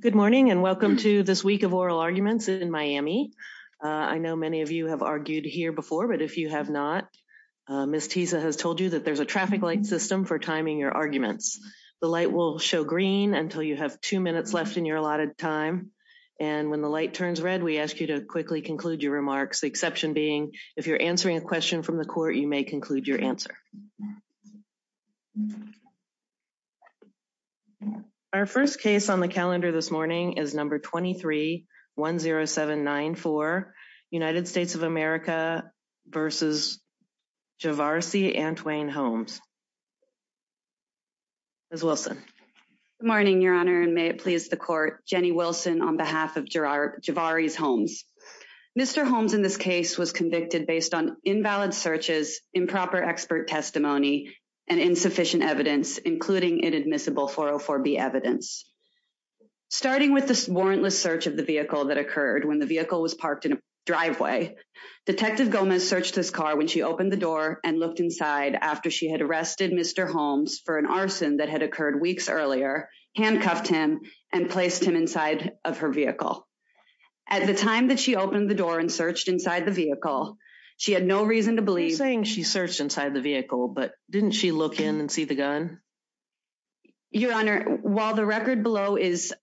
Good morning and welcome to this week of oral arguments in Miami. I know many of you have argued here before, but if you have not, Ms. Tisa has told you that there's a traffic light system for timing your arguments. The light will show green until you have two minutes left in your allotted time, and when the light turns red, we ask you to quickly conclude your remarks, the exception being if you're answering a question from the court, you may conclude your answer. Our first case on the calendar this morning is number 2310794, United States of America v. Javarese Antoine Holmes. Ms. Wilson. Good morning, Your Honor, and may it please the court, Jenny Wilson on behalf of Javarese Holmes. Mr. Holmes in this case was convicted based on invalid searches, improper expert testimony, and insufficient evidence, including inadmissible 404B evidence. Starting with this warrantless search of the vehicle that occurred when the vehicle was parked in a driveway, Detective Gomez searched his car when she opened the door and looked inside after she had arrested Mr. Holmes for an arson that had occurred weeks earlier, handcuffed him, and placed him inside of her vehicle. She had no reason to believe... She's saying she searched inside the vehicle, but didn't she look in and see the gun? Your Honor, while the record below is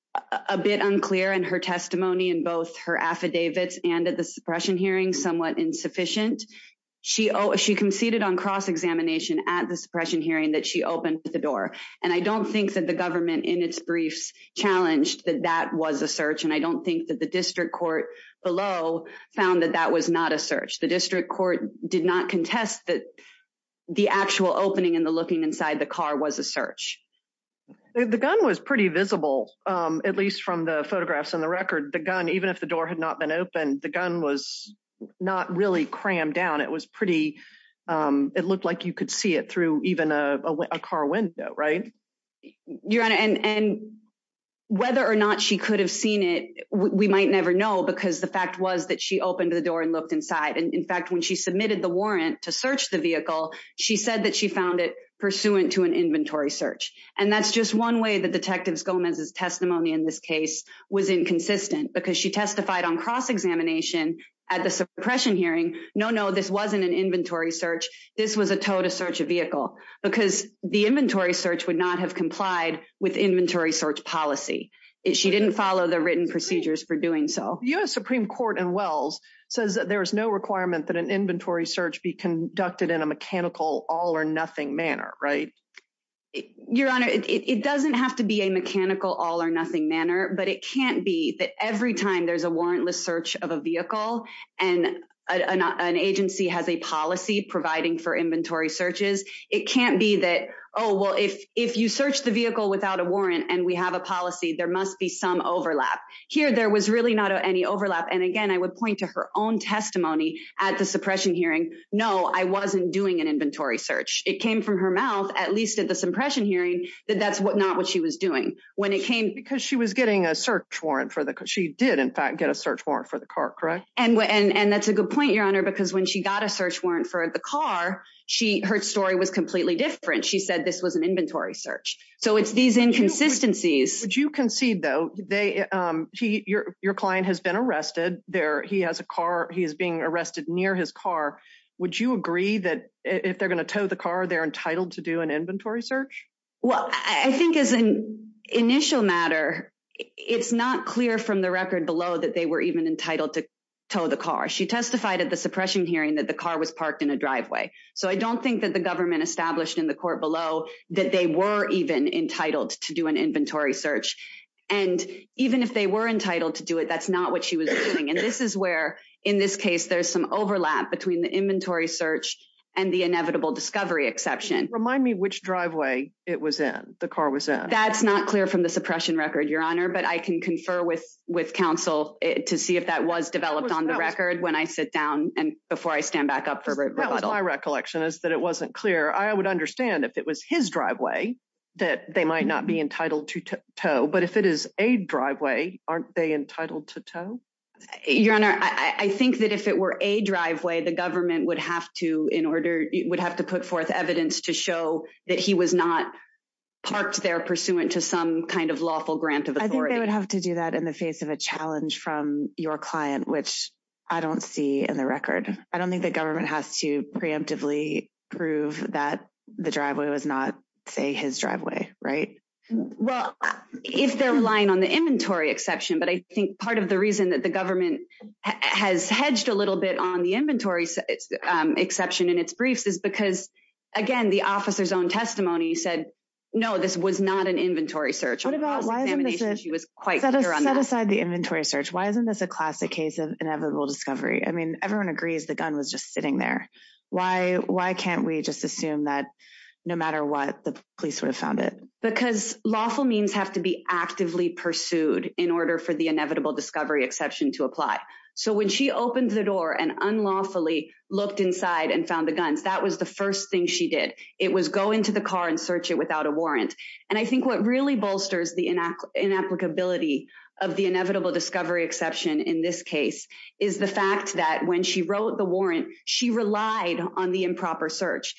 a bit unclear and her testimony in both her affidavits and at the suppression hearing somewhat insufficient, she conceded on cross-examination at the suppression hearing that she opened the door, and I don't think that the government in its brief challenged that that was a search, and I don't think that the district court below found that that was not a search. The district court did not contest that the actual opening and the looking inside the car was a search. The gun was pretty visible, at least from the photographs and the record. The gun, even if the door had not been opened, the gun was not really crammed down. It was pretty... It looked like you could see it through even a car window, right? Your Honor, and whether or not she could have seen it, we might never know, because the fact was that she opened the door and looked inside. In fact, when she submitted the warrant to search the vehicle, she said that she found it pursuant to an inventory search, and that's just one way that Detective Gomez's testimony in this case was inconsistent, because she testified on cross-examination at the suppression hearing, no, no, this wasn't an inventory search. This was a tow to search a vehicle, because the inventory search would not have complied with inventory search policy. She didn't follow the written procedures for doing so. The U.S. Supreme Court in Wells says that there's no requirement that an inventory search be conducted in a mechanical all-or-nothing manner, right? Your Honor, it doesn't have to be a mechanical all-or-nothing manner, but it can't be that every time there's a warrantless search of a vehicle and an agency has a policy providing for inventory searches, it can't be that, oh, well, if you search the vehicle without a warrant and we have a policy, there must be some overlap. Here, there was really not any overlap, and again, I would point to her own testimony at the suppression hearing. No, I wasn't doing an inventory search. It came from her mouth, at least at the suppression hearing, that that's not what she was doing. When it came... Because she was getting a search warrant for the... She did, in fact, get a search warrant for the car, correct? And that's a good point, Your Honor, because when she got a search warrant for the car, her story was completely different. She said this was an inventory search. So it's these inconsistencies. Would you concede, though, your client has been arrested. He has a car. He is being arrested near his car. Would you agree that if they're going to tow the car, they're entitled to do an inventory search? Well, I think as an initial matter, it's not clear from the record below that they were even entitled to tow the car. She testified at the suppression hearing that the car was parked in a driveway. So I don't think that the government established in the court below that they were even entitled to do an inventory search. And even if they were entitled to do it, that's not what she was doing. And this is where, in this case, there's some overlap between the inventory search and the inevitable discovery exception. Remind me which driveway it was at, the car was at. That's not clear from the suppression record, Your Honor, but I can confer with counsel to see if that was developed on the record when I sit down and before I stand back up for rebuttal. My recollection is that it wasn't clear. I would understand if it was his driveway, that they might not be entitled to tow. But if it is a driveway, aren't they entitled to tow? Your Honor, I think that if it were a driveway, the government would have to, in order, would have to put forth evidence to show that he was not parked there pursuant to some kind of lawful grant of the court. They would have to do that in the face of a challenge from your client, which I don't see in the record. I don't think the government has to preemptively prove that the driveway was not, say, his driveway, right? Well, if they're relying on the inventory exception, but I think part of the reason that the government has hedged a little bit on the inventory exception in its briefs is because, again, the officer's own testimony said, no, this was not an inventory search. What about, why isn't this just, set aside the inventory search, why isn't this a classic case of inevitable discovery? I mean, everyone agrees the gun was just sitting there. Why can't we just assume that no matter what, the police would have found it? Because lawful means have to be actively pursued in order for the inevitable discovery exception to apply. So when she opened the door and unlawfully looked inside and found the gun, that was the first thing she did. It was go into the car and search it without a warrant. And I think what really bolsters the inapplicability of the inevitable discovery exception in this case is the fact that when she wrote the warrant, she relied on the improper search.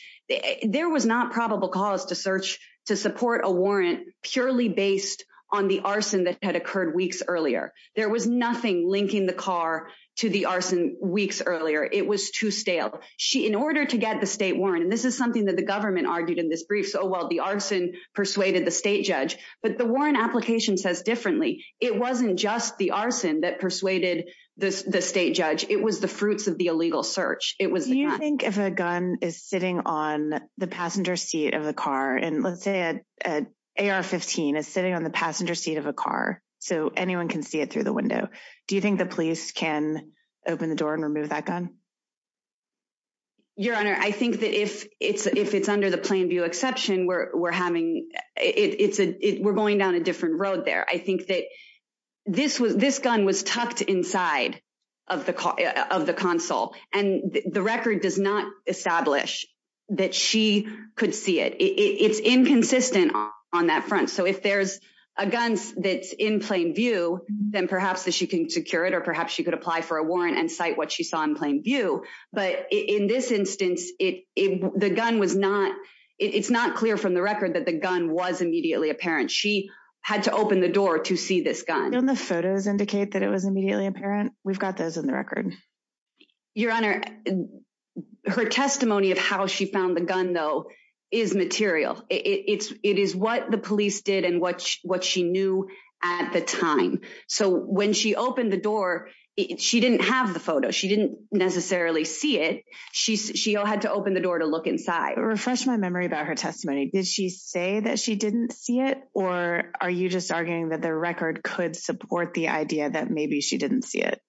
There was not probable cause to search to support a warrant purely based on the arson that had occurred weeks earlier. There was nothing linking the car to the arson weeks earlier. It was too stale. In order to get the state warrant, and this is something that the government argued in this brief, so while the arson persuaded the state judge, but the warrant application says differently. It wasn't just the arson that persuaded the state judge. It was the fruits of the illegal search. Do you think if a gun is sitting on the passenger seat of a car, and let's say an AR-15 is sitting on the passenger seat of a car, so anyone can see it through the window, do you think the police can open the door and remove that gun? Your Honor, I think that if it's under the plain view exception, we're going down a different road there. I think that this gun was tucked inside of the console, and the record does not establish that she could see it. It's inconsistent on that front. So if there's a gun that's in plain view, then perhaps she can secure it, or perhaps she could apply for a warrant and cite what she saw in plain view. But in this instance, it's not clear from the record that the gun was immediately apparent. She had to open the door to see this gun. Don't the photos indicate that it was immediately apparent? We've got those in the records. Your Honor, her testimony of how she found the gun, though, is material. It is what the police did and what she knew at the time. So when she opened the door, she didn't have the photo. She didn't necessarily see it. She had to open the door to look inside. Refresh my memory about her testimony. Did she say that she didn't see it, or are you just arguing that the record could support the idea that maybe she didn't see it?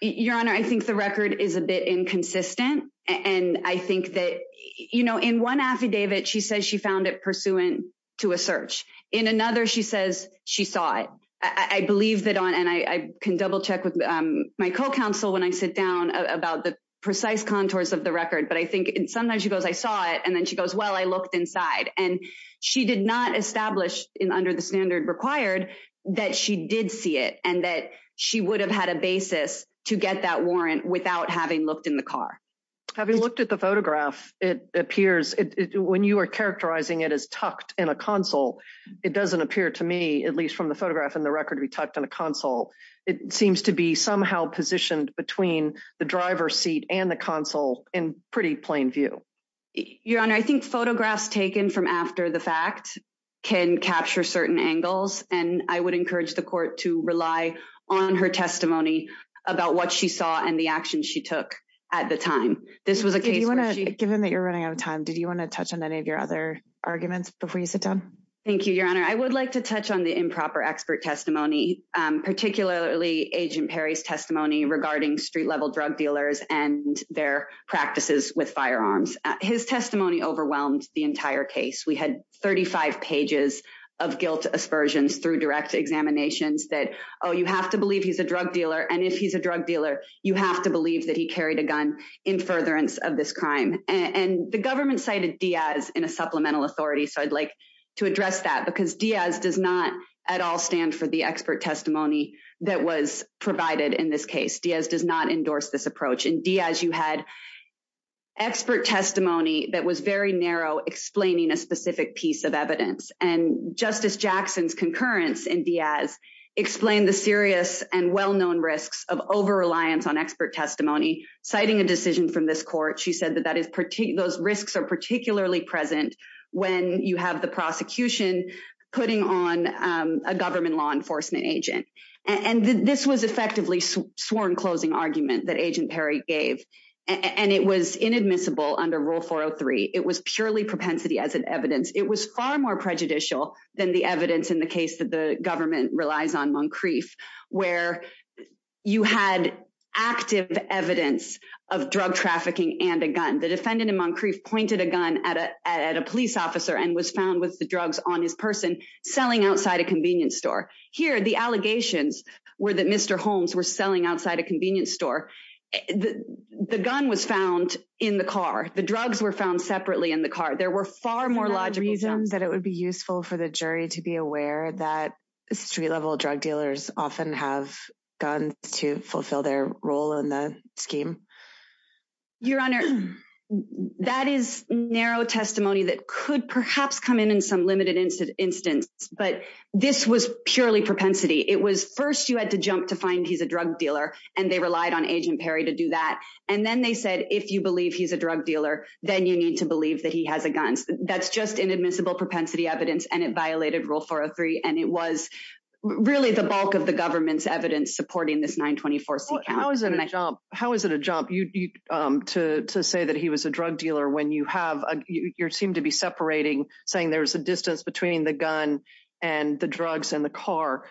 Your Honor, I think the record is a bit inconsistent, and I think that, you know, in one affidavit, she says she found it pursuant to a search. In another, she says she saw it. I believe that on, and I can double-check with my co-counsel when I sit down about the precise contours of the record, but I think sometimes she goes, I saw it, and then she goes, well, I looked inside. And she did not establish under the standard required that she did see it and that she would have had a basis to get that warrant without having looked in the car. Having looked at the photograph, it appears, when you are characterizing it as tucked in a console, it doesn't appear to me, at least from the photograph and the record to be tucked in a console, it seems to be somehow positioned between the driver's seat and the console in pretty plain view. Your Honor, I think photographs taken from after the fact can capture certain angles, and I would encourage the court to rely on her testimony about what she saw and the action she took at the time. Given that you're running out of time, did you want to touch on any of your other arguments before you sit down? Thank you, Your Honor. I would like to touch on the improper expert testimony, particularly Agent Perry's testimony regarding street-level drug dealers and their practices with firearms. His testimony overwhelmed the entire case. We had 35 pages of guilt aspersions through direct examinations that, oh, you have to believe he's a drug dealer, and if he's a drug dealer, you have to believe that he carried a gun in furtherance of this crime. The government cited Diaz in a supplemental authority, so I'd like to address that, because Diaz does not at all stand for the expert testimony that was provided in this case. Diaz does not endorse this approach. In Diaz, you had expert testimony that was very narrow, explaining a specific piece of evidence, and Justice Jackson's concurrence in Diaz explained the serious and well-known risks of over-reliance on expert testimony. Citing a decision from this court, she said that those risks are particularly present when you have the prosecution putting on a government law enforcement agent. This was effectively sworn closing argument that Agent Perry gave, and it was inadmissible under Rule 403. It was purely propensity as an evidence. It was far more prejudicial than the evidence in the case that the government relies on Moncrief, where you had active evidence of drug trafficking and a gun. The defendant in Moncrief pointed a gun at a police officer and was found with the drugs on his person, selling outside a convenience store. Here, the allegations were that Mr. Holmes was selling outside a convenience store. The gun was found in the car. The drugs were found separately in the car. There were far more logical— Is there a reason that it would be useful for the jury to be aware that street-level drug dealers often have guns to fulfill their role in the scheme? Your Honor, that is narrow testimony that could perhaps come in in some limited instance, but this was purely propensity. It was first you had to jump to find he's a drug dealer, and they relied on Agent Perry to do that, and then they said, if you believe he's a propensity evidence, and it violated Rule 403, and it was really the bulk of the government's evidence supporting this 924. How is it a jump to say that he was a drug dealer when you have—you seem to be separating, saying there's a distance between the gun and the drugs and the car.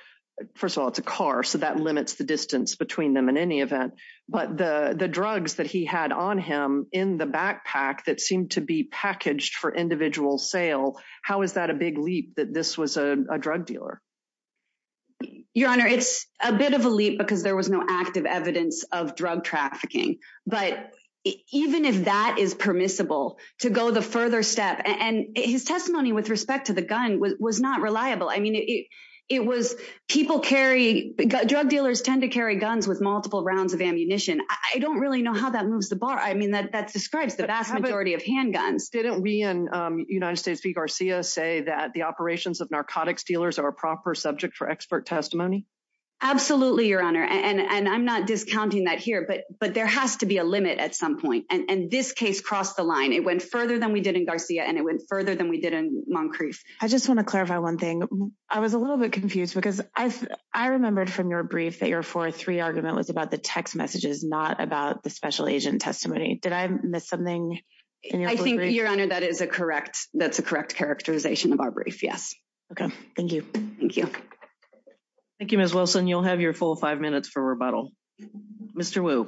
First of all, it's a car, so that limits the distance between them in any event, but the drugs that he had on him in the backpack that seemed to be packaged for individual sale, how is that a big leap that this was a drug dealer? Your Honor, it's a bit of a leap because there was no active evidence of drug trafficking, but even if that is permissible, to go the further step—and his testimony with respect to the gun was not reliable. I mean, it was—people carry—drug dealers tend to carry guns with multiple rounds of ammunition. I don't really know how that moves the bar. I mean, that describes the vast majority of handguns. Didn't we in United States v. Garcia say that the operations of narcotics dealers are a proper subject for expert testimony? Absolutely, Your Honor, and I'm not discounting that here, but there has to be a limit at some point, and this case crossed the line. It went further than we did in Garcia, and it went further than we did in Moncrief. I just want to clarify one thing. I was a little bit confused because I remembered from your brief that your 403 argument was about the text messages, not about the special agent testimony. Did I miss something? I think, Your Honor, that is a correct—that's a correct characterization of our brief, yes. Okay. Thank you. Thank you. Thank you, Ms. Wilson. You'll have your full five minutes for rebuttal. Mr. Wu.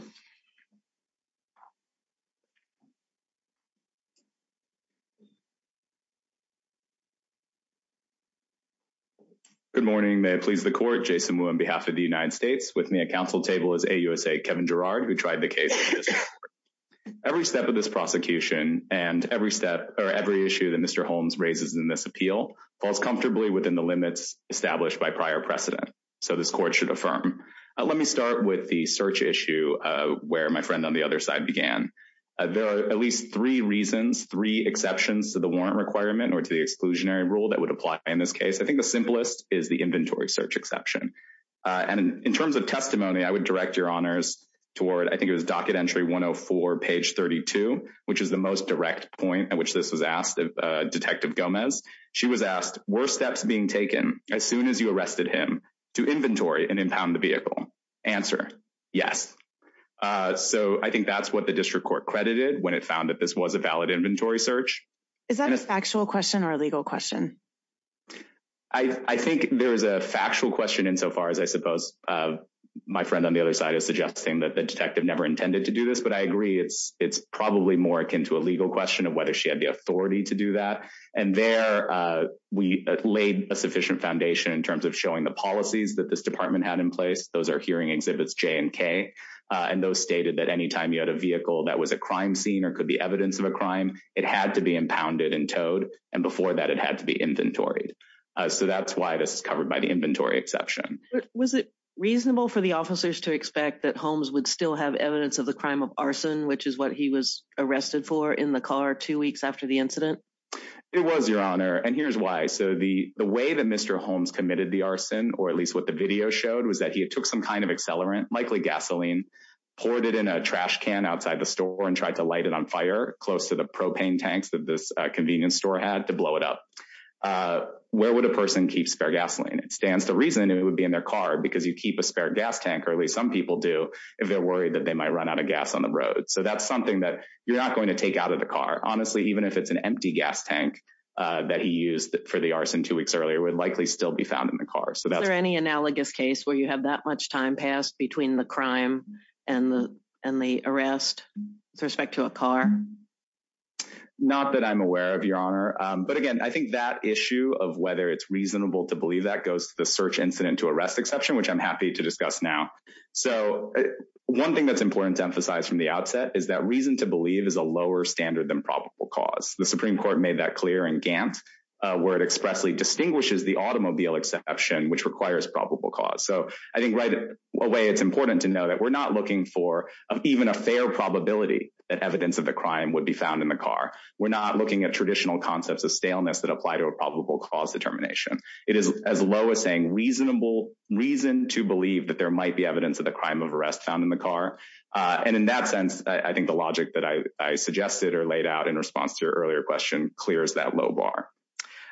Good morning. May I please the Court? Jason Wu on behalf of the United States. With me at the counsel table is AUSA Kevin Gerard, who tried the case. Every step of this prosecution and every step—or every issue that Mr. Holmes raises in this appeal falls comfortably within the limits established by prior precedent, so this Court should affirm. Let me start with the search issue where my friend on the other side began. There are at least three reasons, three exceptions to the warrant requirement or to the exclusionary rule that would apply in this case. I think the simplest is the inventory search exception. And in terms of testimony, I would direct Your Honors toward—I think it was docket entry 104, page 32, which is the most direct point at which this was asked of Detective Gomez. She was asked, were steps being taken as soon as you arrested him to inventory and impound the vehicle? Answer, yes. So I think that's what the district court credited when it found that this was a valid inventory search. Is that a factual question or a legal question? I think there is a factual question insofar as I suppose my friend on the other side is suggesting that the detective never intended to do this, but I agree it's probably more akin to a legal question of whether she had the authority to do that. And there, we laid a sufficient foundation in terms of showing the policies that this department had in place. Those are hearing exhibits J and K, and those stated that any time you had a vehicle that was a crime scene or could be evidence of a crime, it had to be impounded and towed, and before that, it had to be inventoried. So that's why this is covered by the inventory exception. Was it reasonable for the officers to expect that Holmes would still have evidence of the crime of arson, which is what he was arrested for in the car two weeks after the incident? It was, Your Honor, and here's why. So the way that Mr. Holmes committed the arson, or at least what the video showed, was that he took some kind of accelerant, likely gasoline, poured it in a trash can outside the store and tried to light it on fire close to the would a person keep spare gasoline? It stands to reason it would be in their car, because you keep a spare gas tank, or at least some people do, if they're worried that they might run out of gas on the road. So that's something that you're not going to take out of the car. Honestly, even if it's an empty gas tank that he used for the arson two weeks earlier would likely still be found in the car. Is there any analogous case where you have that much time passed between the crime and the arrest with respect to a car? Not that I'm aware of, Your Honor. But again, I think that issue of whether it's reasonable to believe that goes to the search incident to arrest exception, which I'm happy to discuss now. So one thing that's important to emphasize from the outset is that reason to believe is a lower standard than probable cause. The Supreme Court made that clear in Gantz, where it expressly distinguishes the automobile exception, which requires probable cause. So I think right away, it's important to know that we're not looking for even a fair probability that evidence of crime would be found in the car. We're not looking at traditional concepts of staleness that apply to a probable cause determination. It is as low as saying reason to believe that there might be evidence of the crime of arrest found in the car. And in that sense, I think the logic that I suggested or laid out in response to your earlier question clears that low bar.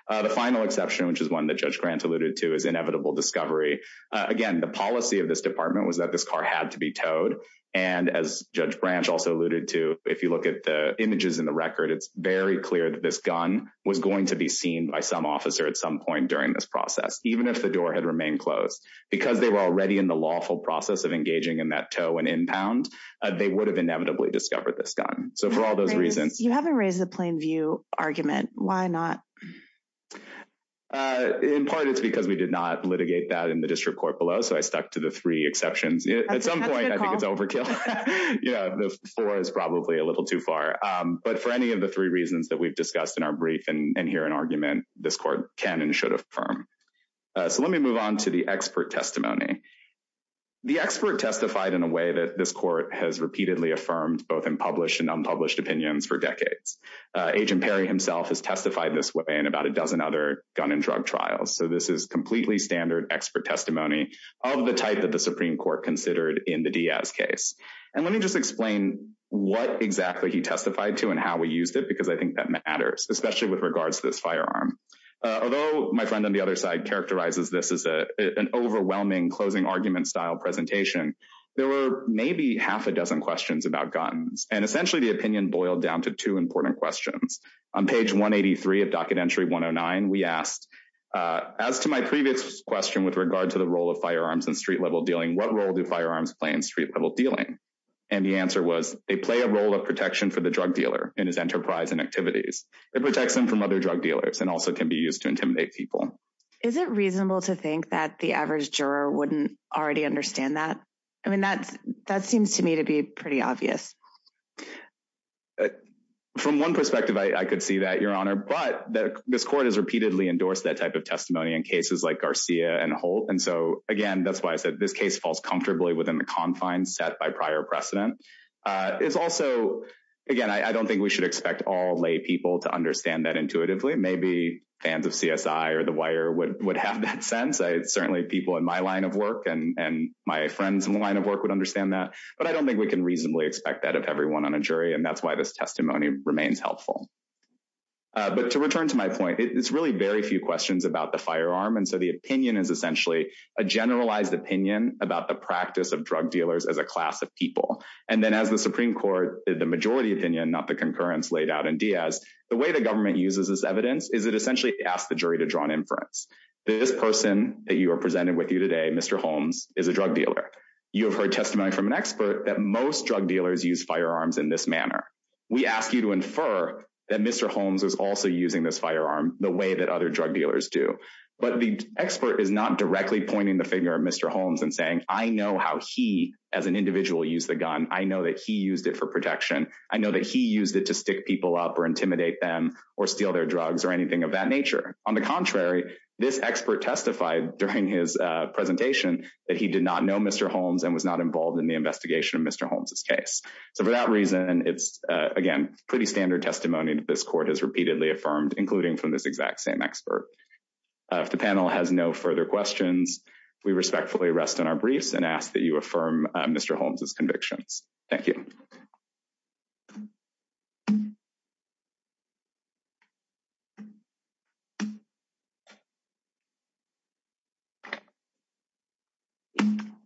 The final exception, which is one that Judge Grant alluded to, is inevitable discovery. Again, the policy of this department was that this car had to be towed. And as Judge Grant also alluded to, if you look at the images in the record, it's very clear that this gun was going to be seen by some officer at some point during this process, even if the door had remained closed. Because they were already in the lawful process of engaging in that tow and impound, they would have inevitably discovered this gun. So for all those reasons... You haven't raised the plain view argument. Why not? In part, it's because we did not litigate that in the district court below. So I stuck to the three exceptions. At some point, I think it's overkill. Yeah, the four is probably a little too far. But for any of the three reasons that we've discussed in our brief and here in argument, this court can and should affirm. So let me move on to the expert testimony. The expert testified in a way that this court has repeatedly affirmed both in published and unpublished opinions for decades. Agent Perry himself has testified this way in about a dozen gun and drug trials. So this is completely standard expert testimony of the type that the Supreme Court considered in the Diaz case. And let me just explain what exactly he testified to and how we used it, because I think that matters, especially with regards to this firearm. Although my friend on the other side characterizes this as an overwhelming closing argument style presentation, there were maybe half a dozen questions about guns. And essentially, the we asked, as to my previous question with regard to the role of firearms and street level dealing, what role do firearms play in street level dealing? And the answer was, they play a role of protection for the drug dealer in his enterprise and activities. It protects them from other drug dealers and also can be used to intimidate people. Is it reasonable to think that the average juror wouldn't already understand that? I mean, that that seems to me to be pretty obvious. From one perspective, I could see that, Your Honor, but this court has repeatedly endorsed that type of testimony in cases like Garcia and Holt. And so again, that's why I said this case falls comfortably within the confines set by prior precedent. It's also, again, I don't think we should expect all lay people to understand that intuitively. Maybe fans of CSI or The Wire would have that sense. Certainly people in my line of work and my friends in the line of work would understand that, but I don't think we can reasonably expect that of everyone on a jury. And that's why this testimony remains helpful. But to return to my point, it's really very few questions about the firearm. And so the opinion is essentially a generalized opinion about the practice of drug dealers as a class of people. And then as the Supreme Court did the majority opinion, not the concurrence laid out in Diaz, the way the government uses this evidence is it essentially asks the jury to draw an inference. This person that you are presenting with you Mr. Holmes is a drug dealer. You have heard testimony from an expert that most drug dealers use firearms in this manner. We ask you to infer that Mr. Holmes is also using this firearm the way that other drug dealers do. But the expert is not directly pointing the finger at Mr. Holmes and saying, I know how he as an individual used the gun. I know that he used it for protection. I know that he used it to stick people up or intimidate them or steal their drugs or anything of that nature. On the contrary, this expert testified during his presentation that he did not know Mr. Holmes and was not involved in the investigation of Mr. Holmes's case. So for that reason, it's again, pretty standard testimony that this court has repeatedly affirmed, including from this exact same expert. If the panel has no further questions, we respectfully rest in our and ask that you affirm Mr. Holmes's convictions. Thank you.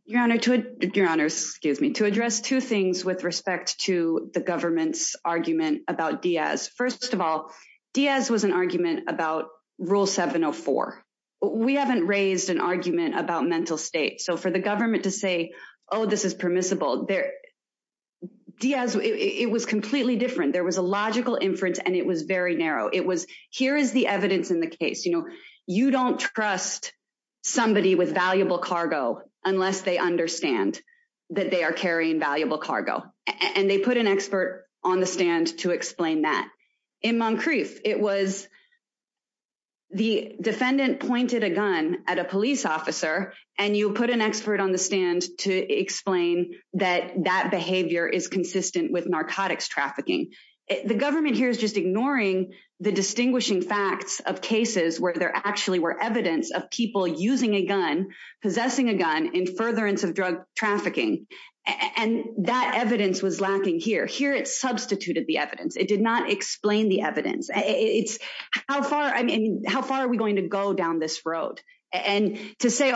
Your Honor, to address two things with respect to the government's argument about Diaz. First of all, Diaz was an argument about Rule 704. We haven't raised an argument about mental state. So for the government to say, oh, this is permissible. Diaz, it was completely different. There was a logical inference and it was very narrow. It was, here is the evidence in the case. You don't trust somebody with valuable cargo unless they understand that they are carrying valuable cargo. And they put an expert on the stand to explain that. In Moncrief, it was the defendant pointed a gun at a police officer and you put an expert on the stand to explain that that behavior is consistent with narcotics trafficking. The government here is just ignoring the distinguishing facts of cases where there actually were evidence of people using a gun, possessing a gun in furtherance of drug trafficking. And that evidence was lacking here. Here, it substituted the evidence. It did not say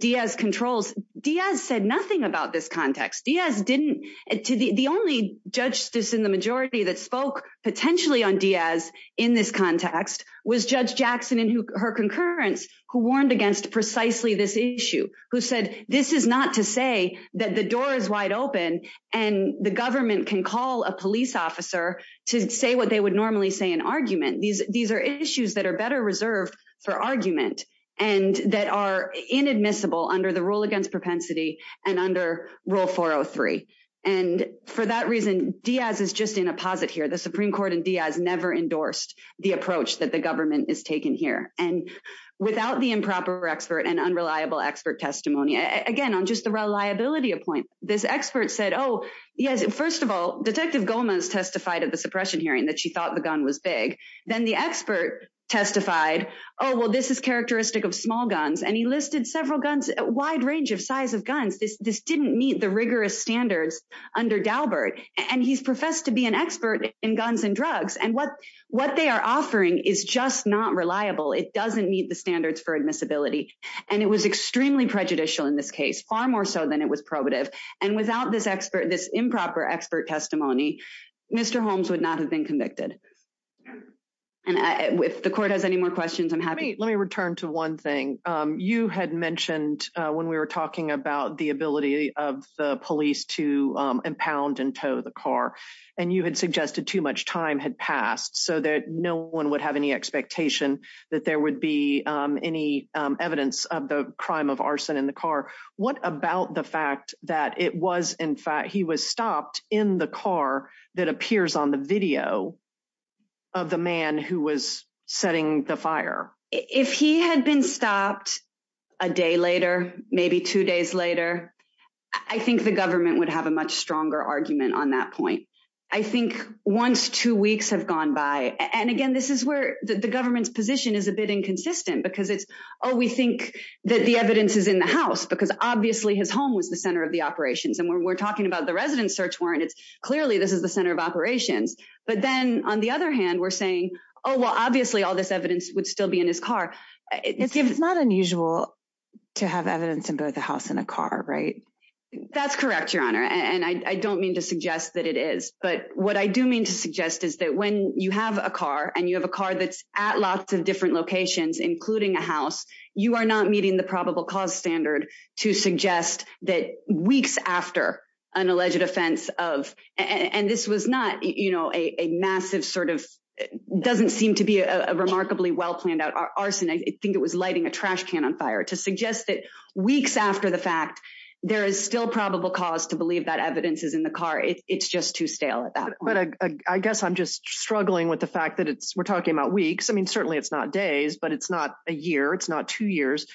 Diaz controls. Diaz said nothing about this context. The only judge in the majority that spoke potentially on Diaz in this context was Judge Jackson and her concurrence who warned against precisely this issue. Who said this is not to say that the door is wide open and the government can call a police officer to say what they would normally say in argument. These are issues that are better reserved for argument and that are inadmissible under the rule against propensity and under Rule 403. And for that reason, Diaz is just in a posit here. The Supreme Court and Diaz never endorsed the approach that the government is taking here. And without the improper expert and unreliable expert testimony, again, on just the reliability of points, this expert said, oh, yes, first of all, Detective Gomez testified at the suppression hearing that she thought the gun was big. Then the expert testified, oh, well, this is characteristic of small guns. And he listed several guns, a wide range of size of guns. This didn't meet the rigorous standards under Galbert. And he's professed to be an expert in guns and drugs. And what they are offering is just not reliable. It doesn't meet the standards for admissibility. And it was extremely prejudicial in this case, far more so than it was probative. And without this expert, this improper expert testimony, Mr. Holmes would not have been convicted. And if the court has any more questions, I'm happy. Let me return to one thing. You had mentioned when we were talking about the ability of the police to impound and tow the car, and you had suggested too much time had passed so that no one would have any expectation that there would be any evidence of the crime of arson in the car. What about the fact that it was, in fact, he was stopped in the car that appears on the video of the man who was setting the fire? If he had been stopped a day later, maybe two days later, I think the government would have a much stronger argument on that point. I think once two weeks have gone by, and again, this is where the government's position is a bit inconsistent because it's, oh, we think that the evidence is in the house because obviously his home was the center of the operations. And when we're talking about the residence search warrant, it's clearly this is the center of operations. But then on the other hand, we're saying, oh, well, obviously all this evidence would still be in his car. It's not unusual to have evidence in both the house and a car, right? That's correct, Your Honor. And I don't mean to suggest that it is. But what I do mean to suggest is that when you have a car and you have a car that's at lots of different locations, including a house, you are not meeting the probable cause standard to suggest that weeks after an alleged offense of, and this was not a massive sort of, doesn't seem to be a remarkably well planned out arson. I think it was lighting a trash can on fire to suggest that weeks after the fact, there is still probable cause to believe that evidence is in the car. It's just too stale at that point. I guess I'm just struggling with the fact that we're talking about weeks. I mean, it's not days, but it's not a year. It's not two years.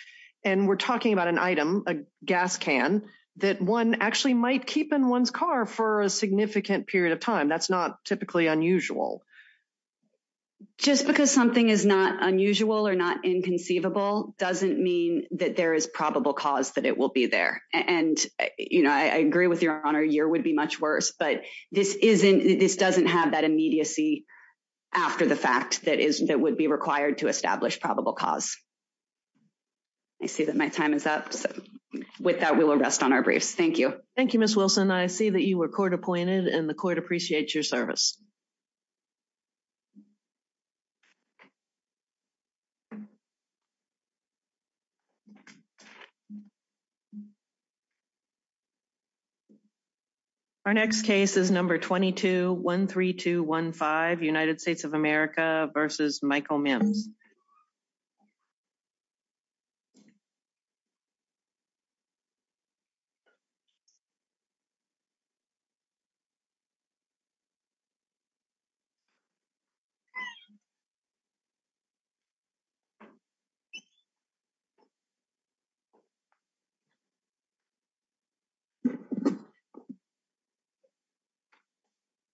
And we're talking about an item, a gas can that one actually might keep in one's car for a significant period of time. That's not typically unusual. Just because something is not unusual or not inconceivable doesn't mean that there is probable cause that it will be there. And I agree with Your Honor, a year would be much worse, but this doesn't have that immediacy after the fact that would be required to establish probable cause. I see that my time is up. With that, we will rest on our brief. Thank you. Thank you, Ms. Wilson. I see that you were court appointed and the court appreciates your service. Our next case is number 2213215, United States of America versus Michael Mims.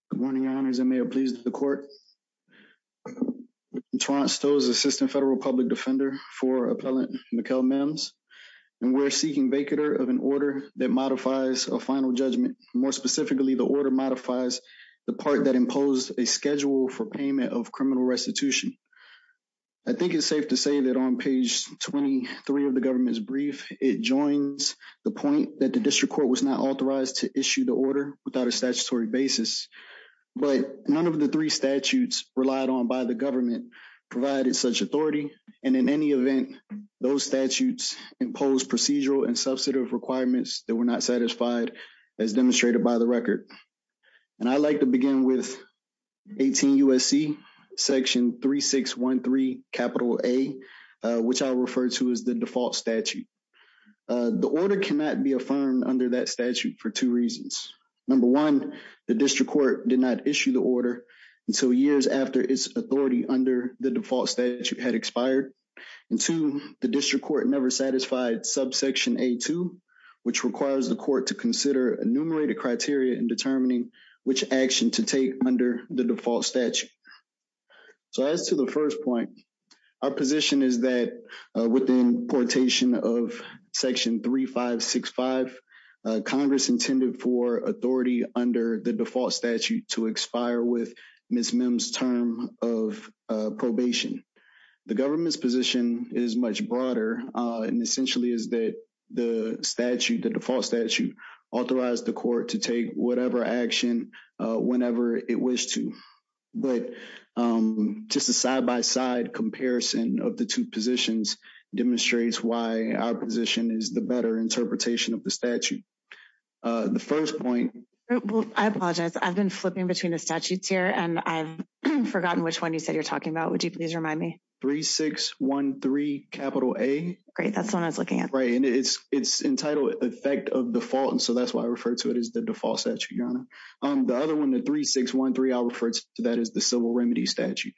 Good morning, Your Honors. I may have pleased the court. Torrance Stowe is Assistant Federal Public Defender for Appellant Michael Mims, and we're seeking vacater of an order that modifies a final judgment. More specifically, the order modifies the part that imposes a schedule for payment of criminal restitution. I think it's safe to say that on page 23 of the government's brief, it joins the point that the district court was not authorized to issue the order without a statutory basis. But none of the three statutes relied on by the government provided such authority. And in any event, those statutes impose procedural and substantive requirements that were not satisfied as demonstrated by the court. I'd like to begin with 18 U.S.C. section 3613 capital A, which I refer to as the default statute. The order cannot be affirmed under that statute for two reasons. Number one, the district court did not issue the order until years after its authority under the default statute had expired. And two, the district court never satisfied subsection A2, which requires the court to enumerate a criteria in determining which action to take under the default statute. So as to the first point, our position is that within quotation of section 3565, Congress intended for authority under the default statute to expire with Ms. Mims' term of probation. The government's position is much broader and essentially is that the statute, the default statute, authorized the court to take whatever action whenever it wished to. But just a side-by-side comparison of the two positions demonstrates why our position is the better interpretation of the statute. The first point... Well, I apologize. I've been flipping between the statutes here and I've forgotten which one you said you're talking about. Would you please remind me? 3613 capital A. Great. That's the one I was looking at. Right. And it's entitled effect of default. And so that's why I refer to it as the default statute, Your Honor. The other one, the 3613, I refer to that as the civil remedy statute.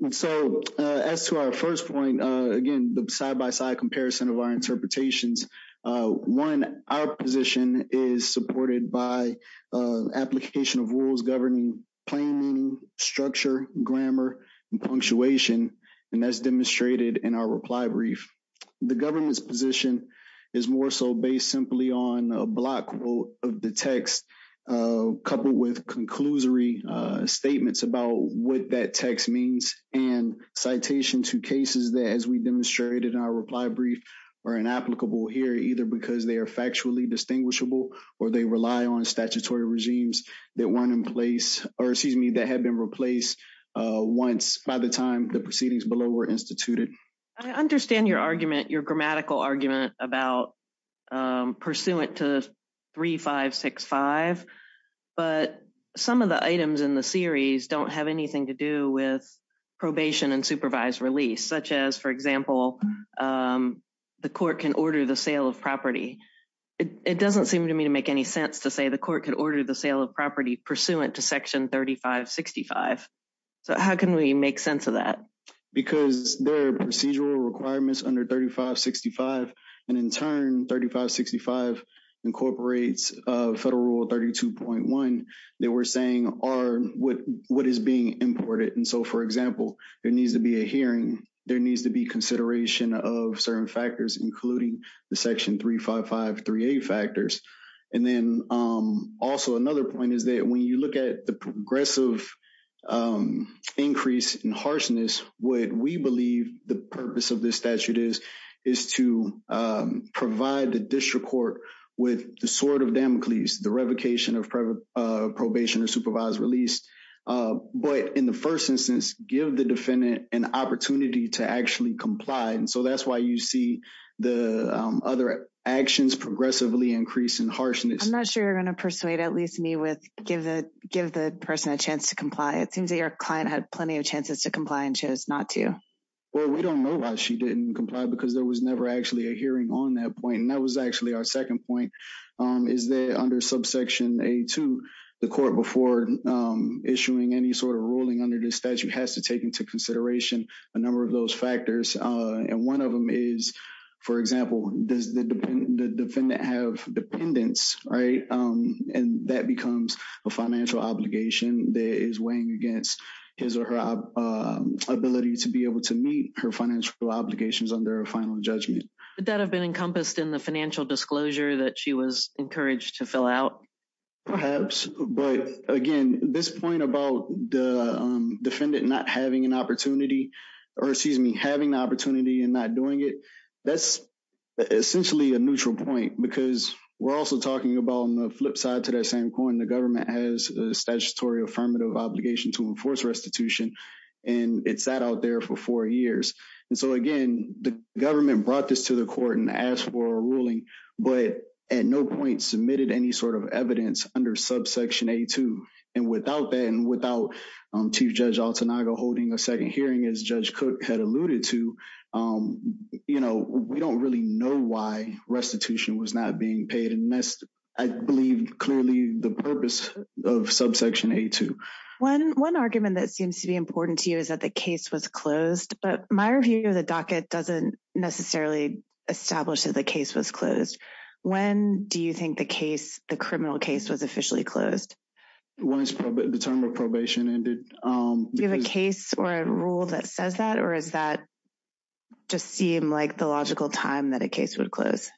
And so as to our first point, again, the side-by-side comparison of our interpretations, one, our position is supported by application of rules governing planning, structure, grammar, and punctuation. And that's demonstrated in our reply brief. The government's position is more so based simply on a block quote of the text, coupled with conclusory statements about what that text means and citation to cases that, as we demonstrated in our reply brief, are inapplicable here, either because they are that have been replaced once by the time the proceedings below were instituted. I understand your argument, your grammatical argument about pursuant to 3565, but some of the items in the series don't have anything to do with probation and supervised release, such as, for example, the court can order the sale of property. It doesn't seem to me to make any sense to say the court could order the sale of property pursuant to section 3565. So how can we make sense of that? Because there are procedural requirements under 3565, and in turn, 3565 incorporates Federal Rule 32.1 that we're saying are what is being imported. And so, for example, there needs to be a hearing, there needs to be consideration of certain factors, including the section 35538 factors. And then also another point is that when you look at the progressive increase in harshness, what we believe the purpose of this statute is, is to provide the district court with the sword of Damocles, the revocation of probation and supervised release. But in the first instance, give the defendant an opportunity to actually comply. And so that's why you see the other actions progressively increase in harshness. I'm not sure you're going to persuade at least me with give the person a chance to comply. It seems that your client had plenty of chances to comply and chose not to. Well, we don't know why she didn't comply, because there was never actually a hearing on that point. And that was actually our second point, is that under subsection 82, the court before issuing any sort of ruling under this statute has to take into consideration a number of those factors. And one of them is, for example, does the defendant have dependence, right? And that becomes a financial obligation that is weighing against his or her ability to be able to meet her financial obligations under a final judgment. Would that have been encompassed in the financial disclosure that she was encouraged to fill out? Perhaps. But again, this point about the defendant not having an opportunity, or excuse me, having the opportunity and not doing it, that's essentially a neutral point, because we're also talking about on the flip side to that same coin, the government has a statutory affirmative obligation to enforce restitution. And it sat out there for four years. And so again, the government brought this to the court and asked for a ruling, but at no point submitted any sort of evidence under subsection 82. And without that, and without Chief Judge Altanaga holding a second hearing, as Judge Cook had alluded to, we don't really know why restitution was not being paid. And that's, I believe, clearly the purpose of subsection 82. One argument that seems to be important to you is that the case was closed, but my review of the docket doesn't necessarily establish that the case was closed. When do you think the case, the criminal case was officially closed? Once the term of probation ended. Do you have a case or a rule that says that, or is that just seem like the logical time that a case would close?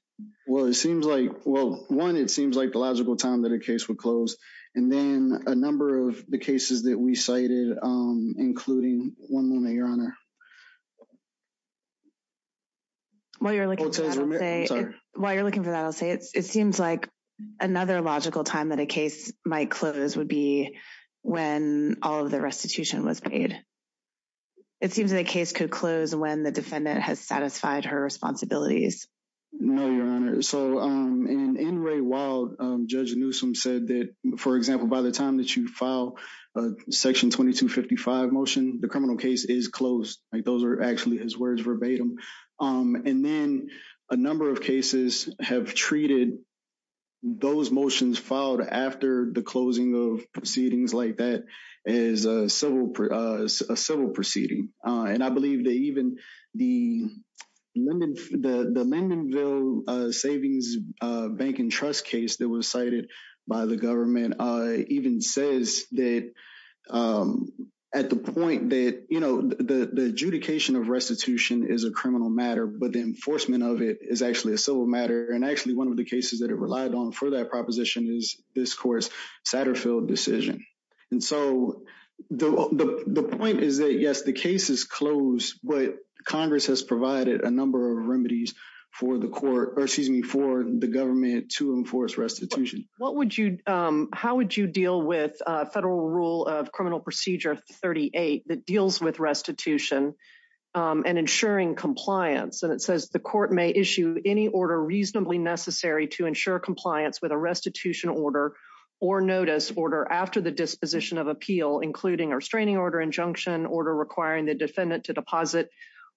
Well, it seems like, well, one, it seems like the logical time that a case would close. And then a number of the cases that we cited, including one moment, Your Honor. While you're looking for that, I'll say, it seems like another logical time that a case might close would be when all of the restitution was paid. It seems that a case could close when the defendant has satisfied her responsibilities. No, Your Honor. So, anyway, while Judge Newsom said that, for example, by the time that you file Section 2255 motion, the criminal case is closed. Those are actually his words verbatim. And then a number of cases have treated those motions filed after the closing of proceedings like that as a civil proceeding. And I believe that even the Lindenville Savings Bank and Trust case that was cited by the government even says that at the point that, you know, the adjudication of restitution is a criminal matter, but the enforcement of it is actually a civil matter. And actually, one of the cases that are reliable for that proposition is this court's Satterfield decision. And so the point is that, yes, the case is closed, but Congress has provided a number of remedies for the court, or excuse me, for the government to enforce restitution. What would you, how would you deal with federal rule of criminal procedure 38 that deals with restitution and ensuring compliance? And it says the court may issue any order reasonably necessary to ensure compliance with a restitution order or notice order after the disposition of appeal, including a restraining order, injunction, order requiring the defendant to deposit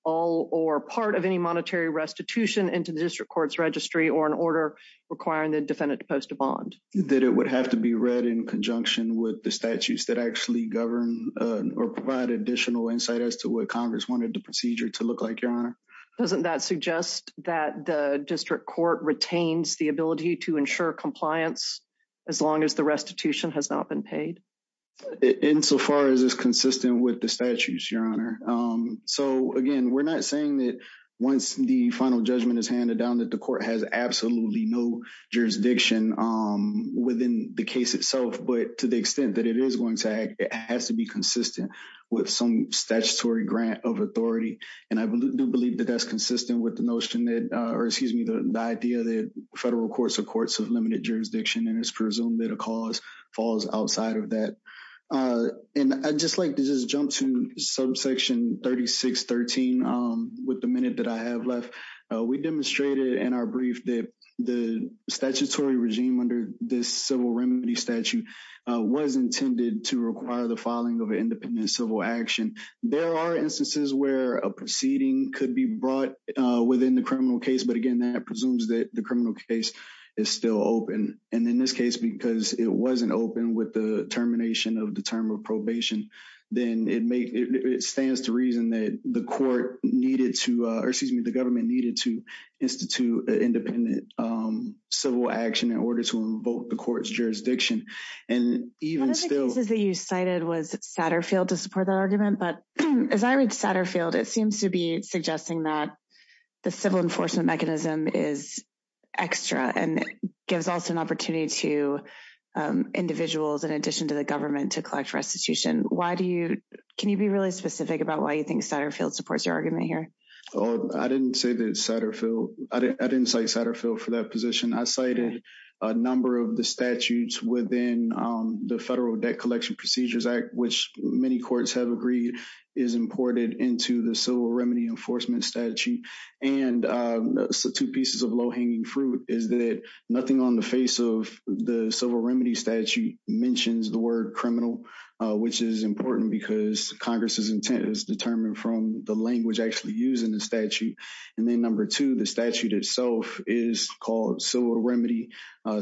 all or part of any monetary restitution into the district court's registry or an order requiring the defendant to post a bond. That it would have to be read in conjunction with the statutes that actually govern or provide additional insight as to what Congress wanted the procedure to look like, Your Honor. Doesn't that suggest that the district court retains the ability to ensure compliance as long as the restitution has not been paid? Insofar as it's consistent with the statutes, Your Honor. So again, we're not saying that once the final judgment is handed down that the court has absolutely no jurisdiction within the case itself, but to the extent that it is going to act, it has to be consistent with some statutory grant of authority. And I do believe that that's consistent with the notion that, or excuse me, the idea that federal court supports of limited jurisdiction is presumed that a cause falls outside of that. And I'd just like to just jump to subsection 3613 with the minute that I have left. We demonstrated in our brief that the statutory regime under this civil remedy statute was intended to require the filing of an independent civil action. There are instances where a proceeding could be brought within the criminal case, but again, that presumes that the criminal case is still open. And in this case, because it wasn't open with the termination of the term of probation, then it may, it stands to reason that the court needed to, or excuse me, the government needed to institute an independent civil action in order to revoke the court's jurisdiction. And even still... One of the cases that you cited was Satterfield to support the argument. But as I read Satterfield, it seems to be suggesting that the civil enforcement mechanism is extra and gives also an opportunity to individuals in addition to the government to collect restitution. Why do you... Can you be really specific about why you think Satterfield supports your argument here? I didn't say that Satterfield... I didn't say Satterfield for that position. I cited a number of the statutes within the Federal Debt Collection Procedures Act, which many courts have agreed is imported into the civil remedy enforcement statute. And so two pieces of low-hanging fruit is that nothing on the face of the civil remedy statute mentions the word criminal, which is important because Congress's intent is determined from the language actually used in the statute. And then number two, the statute itself is called civil remedy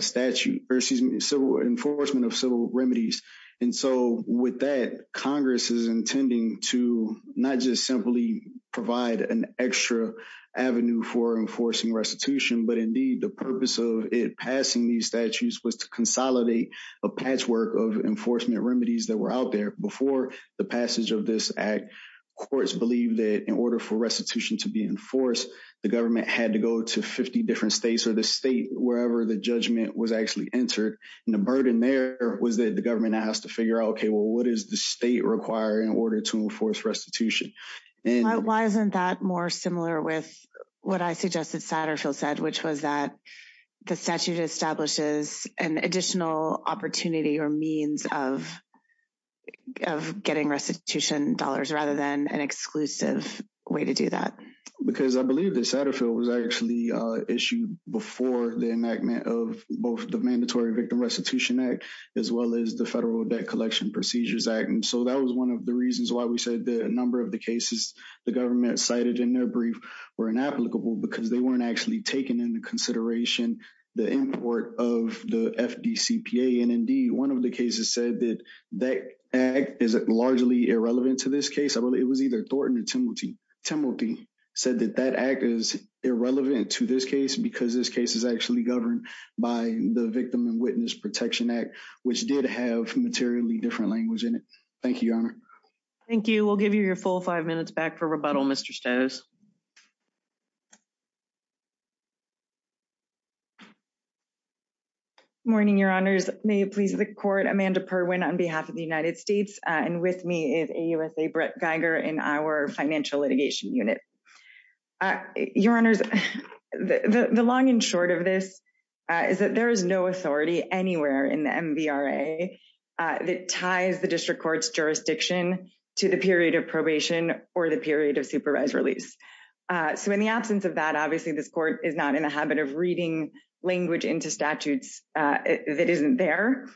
statute, or excuse me, civil enforcement of civil remedies. And so with that, Congress is intending to not just simply provide an extra avenue for enforcing restitution, but indeed the purpose of it passing these statutes was to consolidate a patchwork of enforcement remedies that were out there before the passage of this act. Courts believe that in order for restitution to be enforced, the government had to go to 50 different states or the state wherever the judgment was actually entered. And the burden there was that the government has to figure out, okay, well, what does the state require in order to enforce restitution? And why isn't that more similar with what I suggested Satterfield said, which was that the statute establishes an additional opportunity or means of getting restitution dollars rather than an exclusive way to do that? Because I believe that Satterfield was actually issued before the enactment of both the mandatory Victim Restitution Act, as well as the Federal Debt Collection Procedures Act. And so that was one of the reasons why we said that a number of the cases the government cited in their brief were inapplicable because they weren't actually taken into consideration the import of the FDCPA. And indeed, one of the cases said that that act is largely irrelevant to this case. It was either Thornton or Timothy. Timothy said that that act is irrelevant to this case because this case is actually governed by the Victim and Witness Protection Act, which did have materially different language in it. Thank you, Your Honor. Thank you. We'll give you your full five minutes back for rebuttal, Mr. Stas. Morning, Your Honors. May it please the court. Amanda Perwin on behalf of the United States and with me is AUSA Brett Geiger in our financial litigation unit. Your Honors, the long and short of this is that there is no authority anywhere in the MVRA that ties the district court's jurisdiction to the period of probation or the period of supervised release. So in the absence of that, obviously, this court is not in a habit of reading language into statutes that isn't there.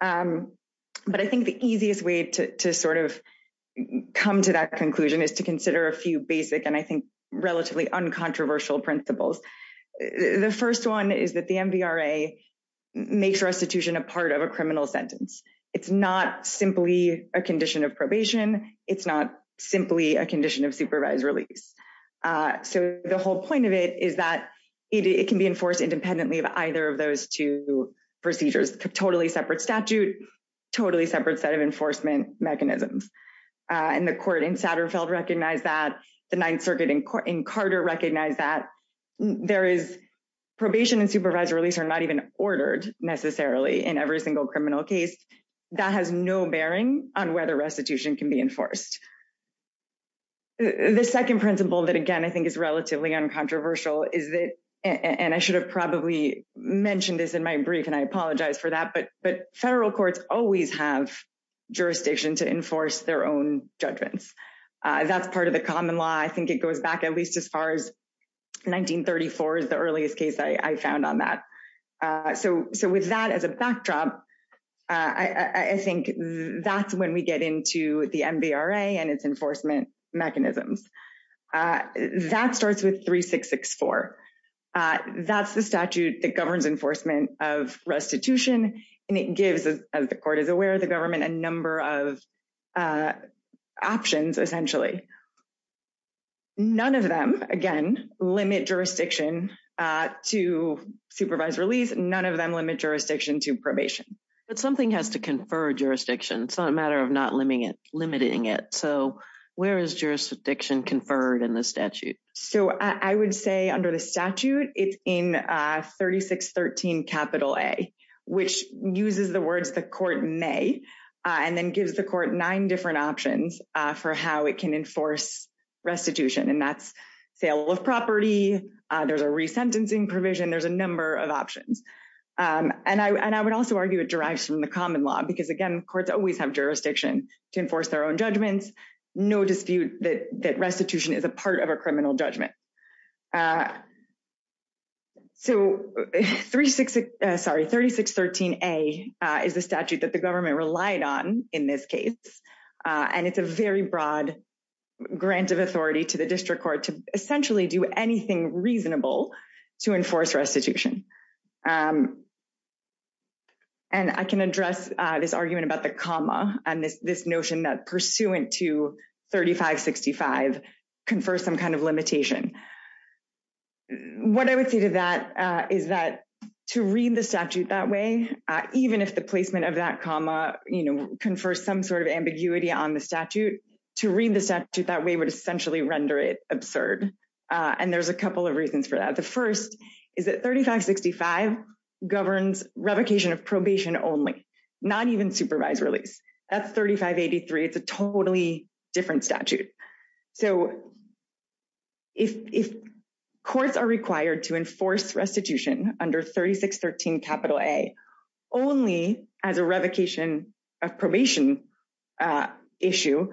But I think the easiest way to sort of come to that conclusion is to consider a few basic relatively uncontroversial principles. The first one is that the MVRA makes restitution a part of a criminal sentence. It's not simply a condition of probation. It's not simply a condition of supervised release. So the whole point of it is that it can be enforced independently of either of those two procedures, totally separate statute, totally separate set of enforcement mechanisms. And the court in Satterfeld recognized that. The Ninth Circuit in Carter recognized that. There is probation and supervised release are not even ordered necessarily in every single criminal case. That has no bearing on whether restitution can be enforced. The second principle that, again, I think is relatively uncontroversial is that, and I should have probably mentioned this in my brief, and I apologize for that, but federal courts always have jurisdiction to enforce their own judgments. That's part of the common law. I think it goes back at least as far as 1934 is the earliest case I found on that. So with that as a backdrop, I think that's when we get into the MVRA and its enforcement mechanisms. That starts with 3664. That's the statute that governs enforcement of restitution, and it gives, as the court is aware, the government a number of options, essentially. None of them, again, limit jurisdiction to supervised release. None of them limit jurisdiction to probation. But something has to confer jurisdiction. It's not a matter of not limiting it. So where is jurisdiction conferred in the statute? So I would say under the statute, it's in 3613 capital A, which uses the words the court may, and then gives the court nine different options for how it can enforce restitution, and that's sale of property. There's a resentencing provision. There's a number of options. And I would also argue it derives from the common law because, again, courts always have jurisdiction to enforce their own judgments. No dispute that restitution is a part of a criminal judgment. So 3613A is a statute that the government relied on in this case, and it's a very broad grant of authority to the district court to essentially do anything reasonable to enforce restitution. And I can address this argument about the comma and this notion that pursuant to 3565 confers some kind of limitation. What I would say to that is that to read the statute that way, even if the placement of that comma, you know, confers some sort of ambiguity on the statute, to read the statute that way would essentially render it absurd. And there's a couple of reasons for that. The first is that 3565 governs revocation of probation only, not even supervisory. That's 3583. It's a totally different statute. So if courts are required to enforce restitution under 3613A only as a revocation of probation issue,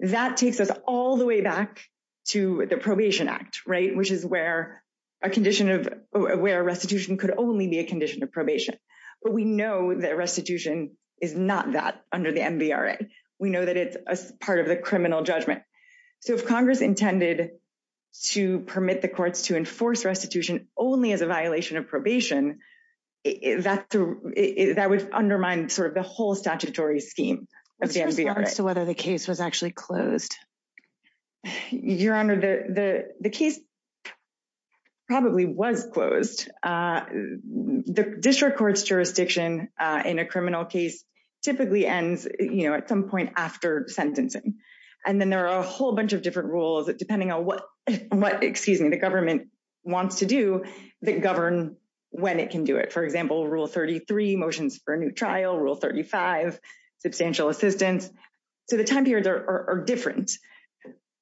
that takes us all the way back to the Probation Act, right, which is where a restitution could only be a condition of probation. But we know that restitution is not that under the MVRA. We know that it's part of the criminal judgment. So if Congress intended to permit the courts to enforce restitution only as a violation of probation, that would undermine sort of the whole statutory scheme of the MVRA. So what if the case was actually closed? Your Honor, the case probably was closed. The district court's jurisdiction in a criminal case typically ends, you know, at some point after sentencing. And then there are a whole bunch of different rules, depending on what, excuse me, the government wants to do that govern when it can do it. For example, Rule 33, motions for a new trial, Rule 35, substantial assistance. So the time periods are different.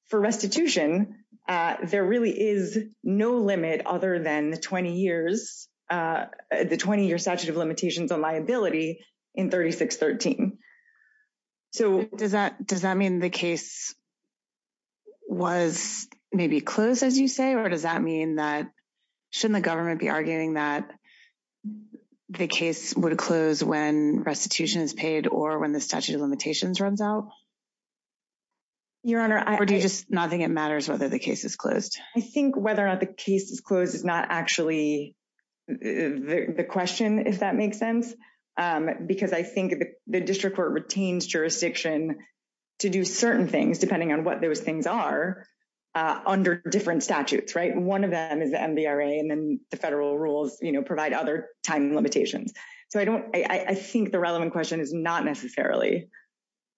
For restitution, there really is no limit other than 20 years, the 20-year statute of limitations on liability in 3613. So does that mean the case was maybe closed, as you say? Or does that mean that, shouldn't the government be arguing that the case would close when restitution is paid or when the statute of limitations runs out? Your Honor, I don't think it matters whether the case is closed. I think whether or not the case is closed is not actually the question, if that makes sense. Because I think the district court retains jurisdiction to do certain things, depending on what those things are, under different statutes, right? And one of them is MVRA, and then the federal rules, you know, provide other time limitations. So I don't, I think the relevant question is not necessarily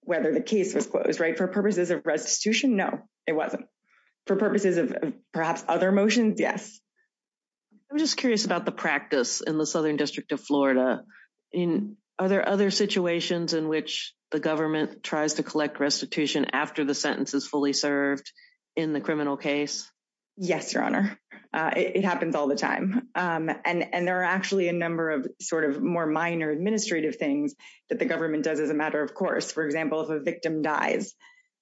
whether the case was closed, right? For purposes of restitution, no, it wasn't. For purposes of perhaps other motions, yes. I'm just curious about the practice in the Southern District of Florida. In, are there other situations in which the government tries to collect restitution after the sentence is fully served in the criminal case? Yes, Your Honor, it happens all the time. And there are actually a number of sort of more minor administrative things that the government does as a matter of course. For example, if a victim dies,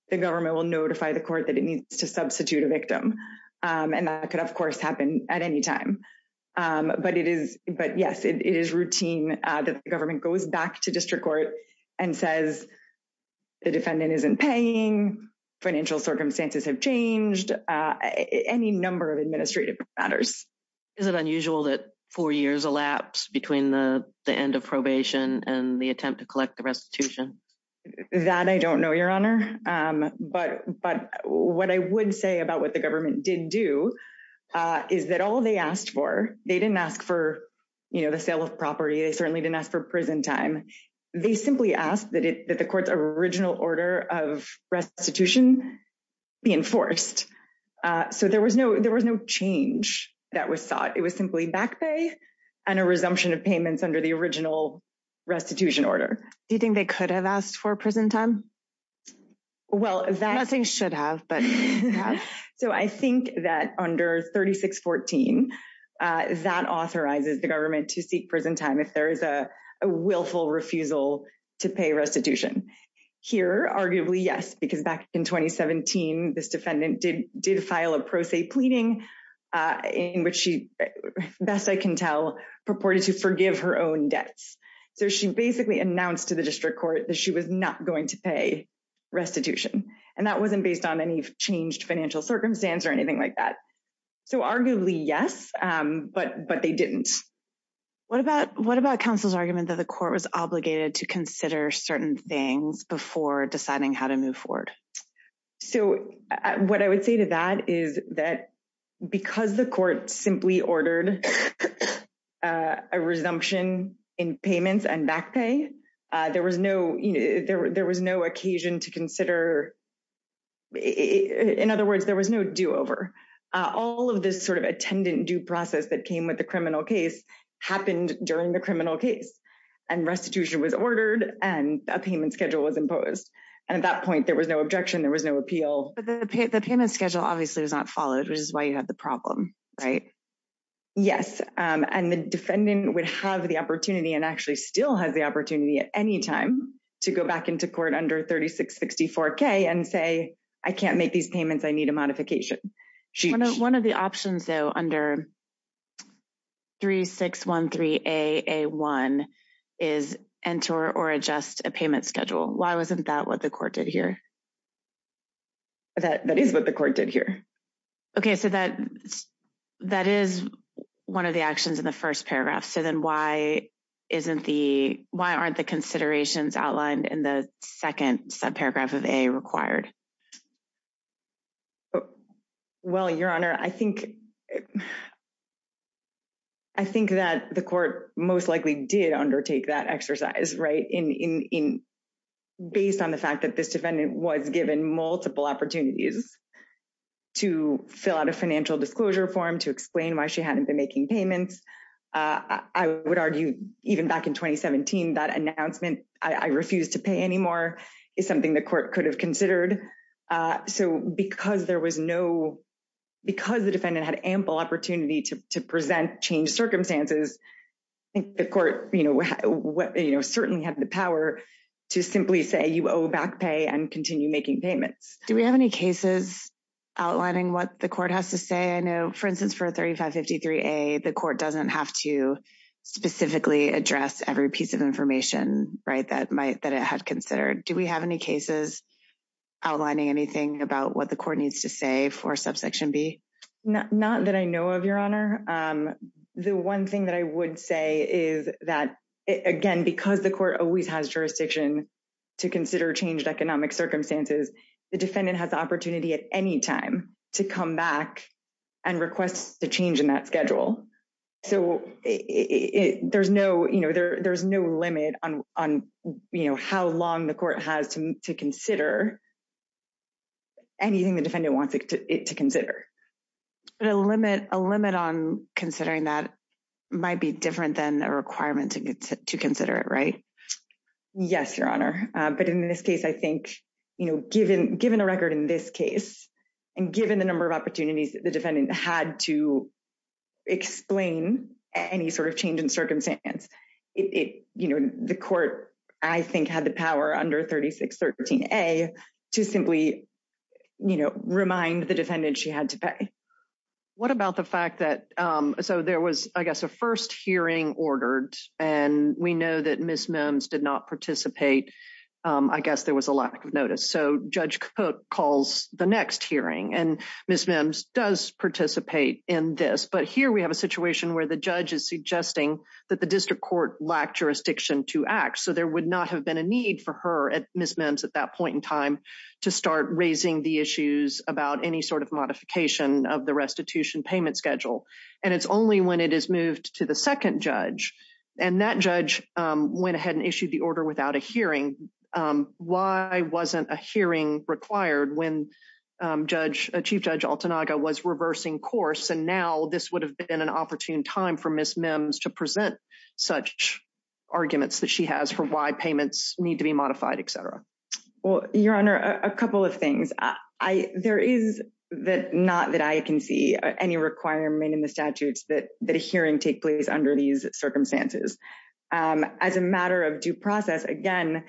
the government will notify the court that it needs to substitute a victim. And that could, of course, happen at any time. But it is, but yes, it is routine that the government goes back to district court and says the defendant isn't paying, financial circumstances have changed, any number of administrative matters. Is it unusual that four years elapsed between the end of probation and the attempt to collect the restitution? That I don't know, Your Honor. But what I would say about what the government did do is that all they asked for, they didn't ask for, you know, the sale of property. They certainly didn't ask for prison time. They simply asked that the court's original order of restitution be enforced. So there was no change that was sought. It was simply back pay and a resumption of payments under the original restitution order. Do you think they could have asked for prison time? Well, nothing should have, but yes. So I think that under 3614, that authorizes the government to seek prison time if there is a willful refusal to pay restitution. Here, arguably, yes, because back in 2017, this defendant did file a pro se pleading in which she, best I can tell, purported to forgive her own debts. So she basically announced to the district court that she was not going to pay restitution. And that wasn't based on any changed financial circumstance or anything like that. So arguably, yes, but they didn't. What about what about counsel's argument that the court was obligated to consider certain things before deciding how to move forward? So what I would say to that is that because the court simply ordered a resumption in payments and back pay, there was no occasion to consider. In other words, there was no do over. All of this sort of attendant due process that came with the criminal case happened during the criminal case and restitution was ordered and a payment schedule was imposed. And at that point, there was no objection. There was no appeal. But the payment schedule obviously was not followed, which is why you have the problem, right? Yes. And the defendant would have the opportunity and actually still has the opportunity at any time to go back into court under 3664K and say, I can't make these payments. I need a modification. One of the options, though, under 3613AA1 is enter or adjust a payment schedule. Why wasn't that what the court did here? That is what the court did here. OK, so that that is one of the actions in the first paragraph. So then why isn't the why aren't the considerations outlined in the second subparagraph of a required? Well, your honor, I think I think that the court most likely did undertake that exercise, right? In based on the fact that this defendant was given multiple opportunities to fill out a financial disclosure form to explain why she hadn't been making payments, I would argue even back in 2017, that announcement, I refuse to pay anymore is something the court could have considered. So because there was no because the defendant had ample opportunity to present change circumstances, the court certainly had the power to simply say you owe back pay and continue making payments. Do we have any cases outlining what the court has to say? I know, for instance, for 3553A, the court doesn't have to specifically address every piece of information that might that it had considered. Do we have any cases outlining anything about what the court needs to say for subsection B? Not that I know of, your honor. The one thing that I would say is that, again, because the court always has jurisdiction to consider changed economic circumstances, the defendant has the opportunity at any time to come back and request a change in that schedule. So there's no limit on how long the court has to consider anything the defendant wants it to consider. A limit on considering that might be different than a requirement to consider it, right? Yes, your honor. But in this case, I think given a record in this case and given the number of opportunities the defendant had to explain any sort of change in circumstance, the court, I think, had the power under 3613A to simply remind the defendant she had to pay. What about the fact that, so there was, I guess, a first hearing ordered and we know that Ms. Mims did not participate. I guess there was a lack of notice. Judge Cook calls the next hearing and Ms. Mims does participate in this. But here we have a situation where the judge is suggesting that the district court lacked jurisdiction to act. So there would not have been a need for her at Ms. Mims at that point in time to start raising the issues about any sort of modification of the restitution payment schedule. And it's only when it is moved to the second judge and that judge went ahead and issued the order without a hearing. Why wasn't a hearing required when Judge, Chief Judge Altanaga was reversing course and now this would have been an opportune time for Ms. Mims to present such arguments that she has for why payments need to be modified, et cetera. Well, your honor, a couple of things. There is not that I can see any requirement in the statutes that a hearing take place under these circumstances. As a matter of due process, again,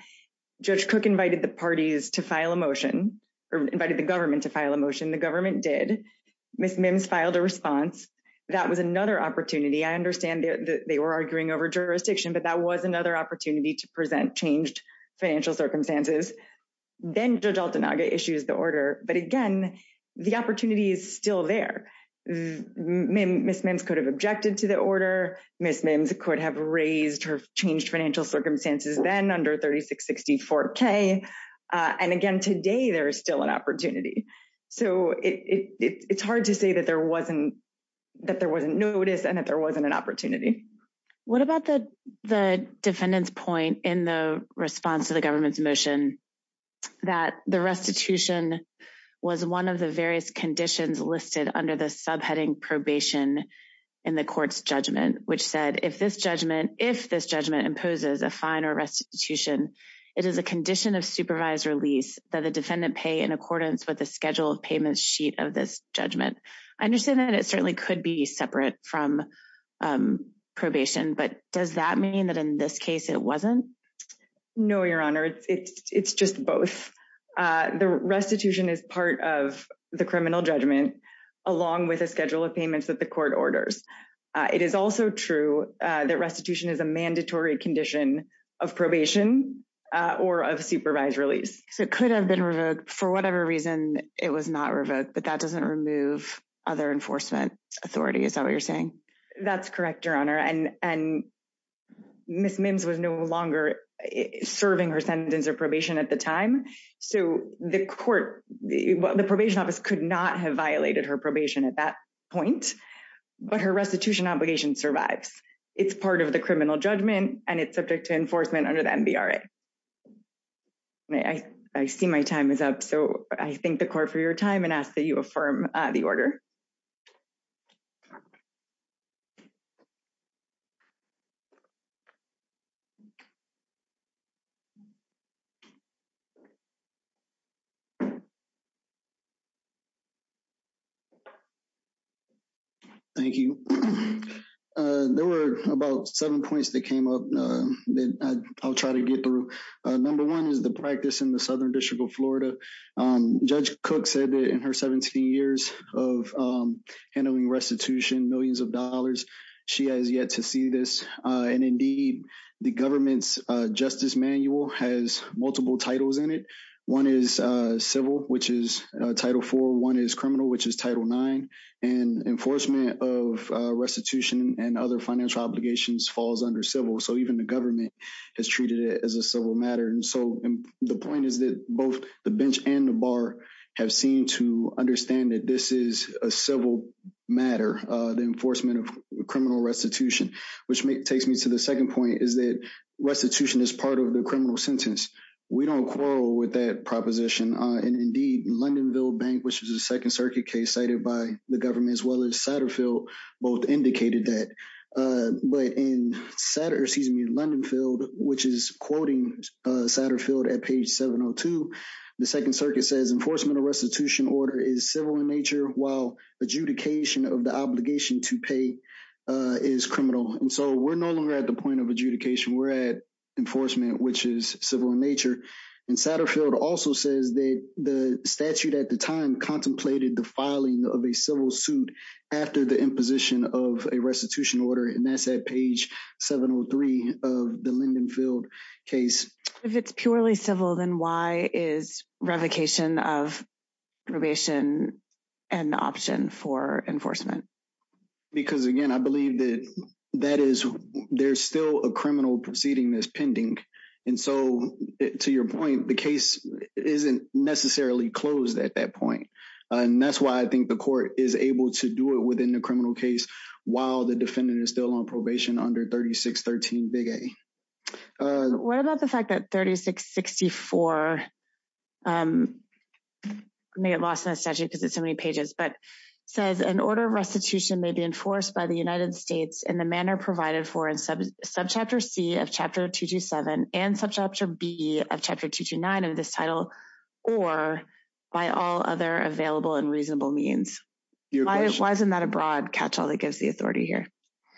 Judge Cook invited the parties to file a motion or invited the government to file a motion. The government did. Ms. Mims filed a response. That was another opportunity. I understand they were arguing over jurisdiction, but that was another opportunity to present changed financial circumstances. Then Judge Altanaga issues the order. But again, the opportunity is still there. Ms. Mims could have objected to the order. Ms. Mims could have raised her changed financial circumstances then under 3660-4K. And again, today there is still an opportunity. So it's hard to say that there wasn't notice and that there wasn't an opportunity. What about the defendant's point in the response to the government's motion that the restitution was one of the various conditions listed under the subheading probation in the court's judgment, which said, if this judgment imposes a fine or restitution, it is a condition of supervised release that the defendant pay in accordance with the scheduled payment sheet of this judgment. I understand that it certainly could be separate from probation, but does that mean that in this case it wasn't? No, Your Honor. It's just both. The restitution is part of the criminal judgment along with a schedule of payments that the court orders. It is also true that restitution is a mandatory condition of probation or of supervised release. So it could have been revoked for whatever reason it was not revoked, but that doesn't remove other enforcement authority. Is that what you're saying? That's correct, Your Honor. And Ms. Mims was no longer serving her sentence of probation at the time. So the court, the probation office could not have violated her probation at that point. But her restitution obligation survives. It's part of the criminal judgment and it's subject to enforcement under the NBRA. I see my time is up, so I thank the court for your time and ask that you affirm the order. Thank you. There were about seven points that came up that I'll try to get through. Number one is the practice in the Southern District of Florida. Judge Cook said that in her 17 years of handling restitution, millions of dollars, she has yet to see this. And indeed, the government's justice manual has multiple titles in it. One is civil, which is Title IV. One is criminal, which is Title IX. And enforcement of restitution and other financial obligations falls under civil. So even the government has treated it as a civil matter. And so the point is that both the bench and the bar have seemed to understand that this is a civil matter, the enforcement of criminal restitution, which takes me to the second point, is that restitution is part of the criminal sentence. We don't quarrel with that proposition. And indeed, Lindenville Bank, which is a Second Circuit case cited by the government as well as Satterfield, both indicated that. But in Satterfield, excuse me, Lindenfield, which is quoting Satterfield at page 702, the Second Circuit says enforcement of restitution order is civil in nature, while adjudication of the obligation to pay is criminal. And so we're no longer at the point of adjudication. We're at enforcement, which is civil in nature. And Satterfield also says that the statute at the time contemplated the filing of a civil suit after the imposition of a restitution order, and that's at page 703 of the Lindenfield case. If it's purely civil, then why is revocation of probation an option for enforcement? Because, again, I believe that there's still a criminal proceeding that's pending. And so to your point, the case isn't necessarily closed at that point. And that's why I think the court is able to do it within the criminal case while the defendant is still on probation under 3613 Big A. What about the fact that 3664, I may have lost my statute because it's so many pages, but says an order of restitution may be enforced by the United States in the manner provided for in Subchapter C of Chapter 227 and Subchapter B of Chapter 229 of this title or by all other available and reasonable means. Why isn't that a broad catch-all that gives the authority here?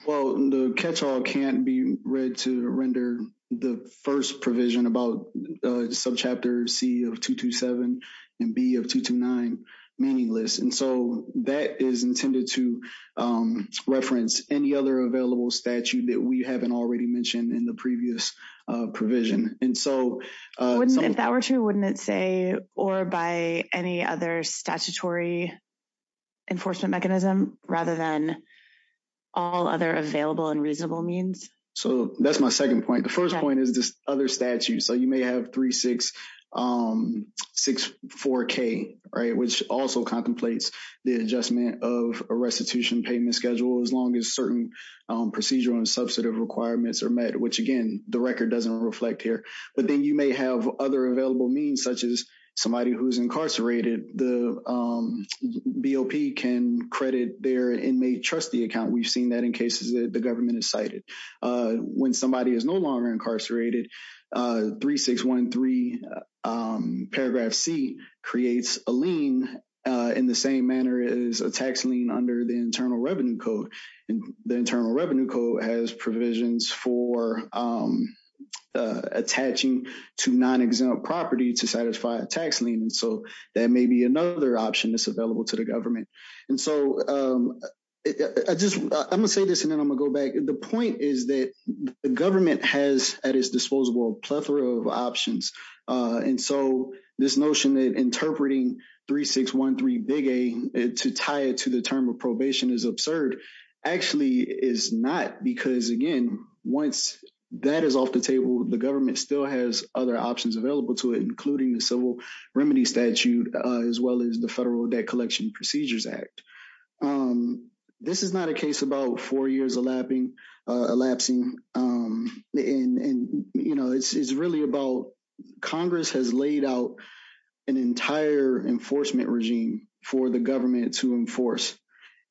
Well, the catch-all can't be read to render the first provision about Subchapter C of 227 and B of 229 meaningless. And so that is intended to reference any other available statute that we haven't already mentioned in the previous provision. If that were true, wouldn't it say or by any other statutory enforcement mechanism rather than all other available and reasonable means? So that's my second point. The first point is this other statute. You may have 3664K, which also contemplates the adjustment of a restitution payment schedule as long as certain procedural and substantive requirements are met, which again, the record doesn't reflect here. But then you may have other available means, such as somebody who's incarcerated. The BOP can credit their inmate trustee account. We've seen that in cases that the government has cited. When somebody is no longer incarcerated, 3613 paragraph C creates a lien in the same manner as a tax lien under the Internal Revenue Code. And the Internal Revenue Code has provisions for attaching to non-exempt property to satisfy a tax lien. So that may be another option that's available to the government. And so I'm going to say this and then I'm going to go back. The point is that the government has at its disposable a plethora of options. And so this notion that interpreting 3613 big A to tie it to the term of probation is absurd actually is not. Because again, once that is off the table, the government still has other options available to it, including the civil remedy statute, as well as the Federal Debt Collection Procedures Act. This is not a case about four years elapsing. And it's really about Congress has laid out an entire enforcement regime for the government to enforce.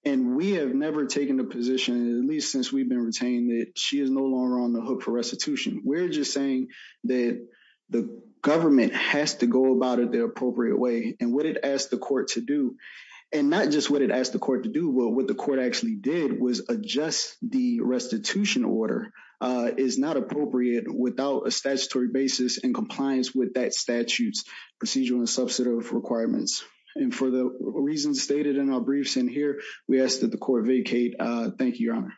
And we have never taken a position, at least since we've been retained, that she is no longer on the hook for restitution. We're just saying that the government has to go about it the appropriate way. And what it asked the court to do. And not just what it asked the court to do, but what the court actually did was adjust the restitution order is not appropriate without a statutory basis in compliance with that statute's procedural and substantive requirements. And for the reasons stated in our briefs in here, we ask that the court vacate. Thank you, Your Honor.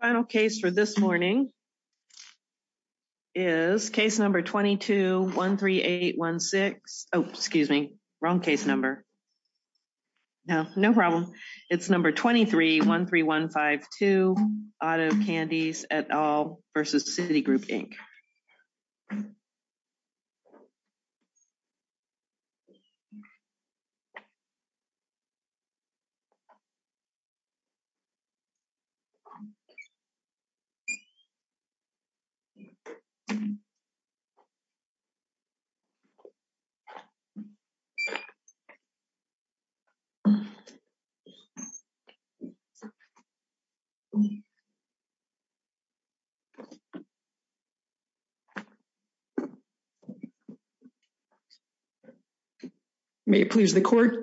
Final case for this morning is case number 22-13816. Oh, excuse me. Wrong case number. No, no problem. It's number 23-13152, Otto Candies et al. versus Citigroup, Inc.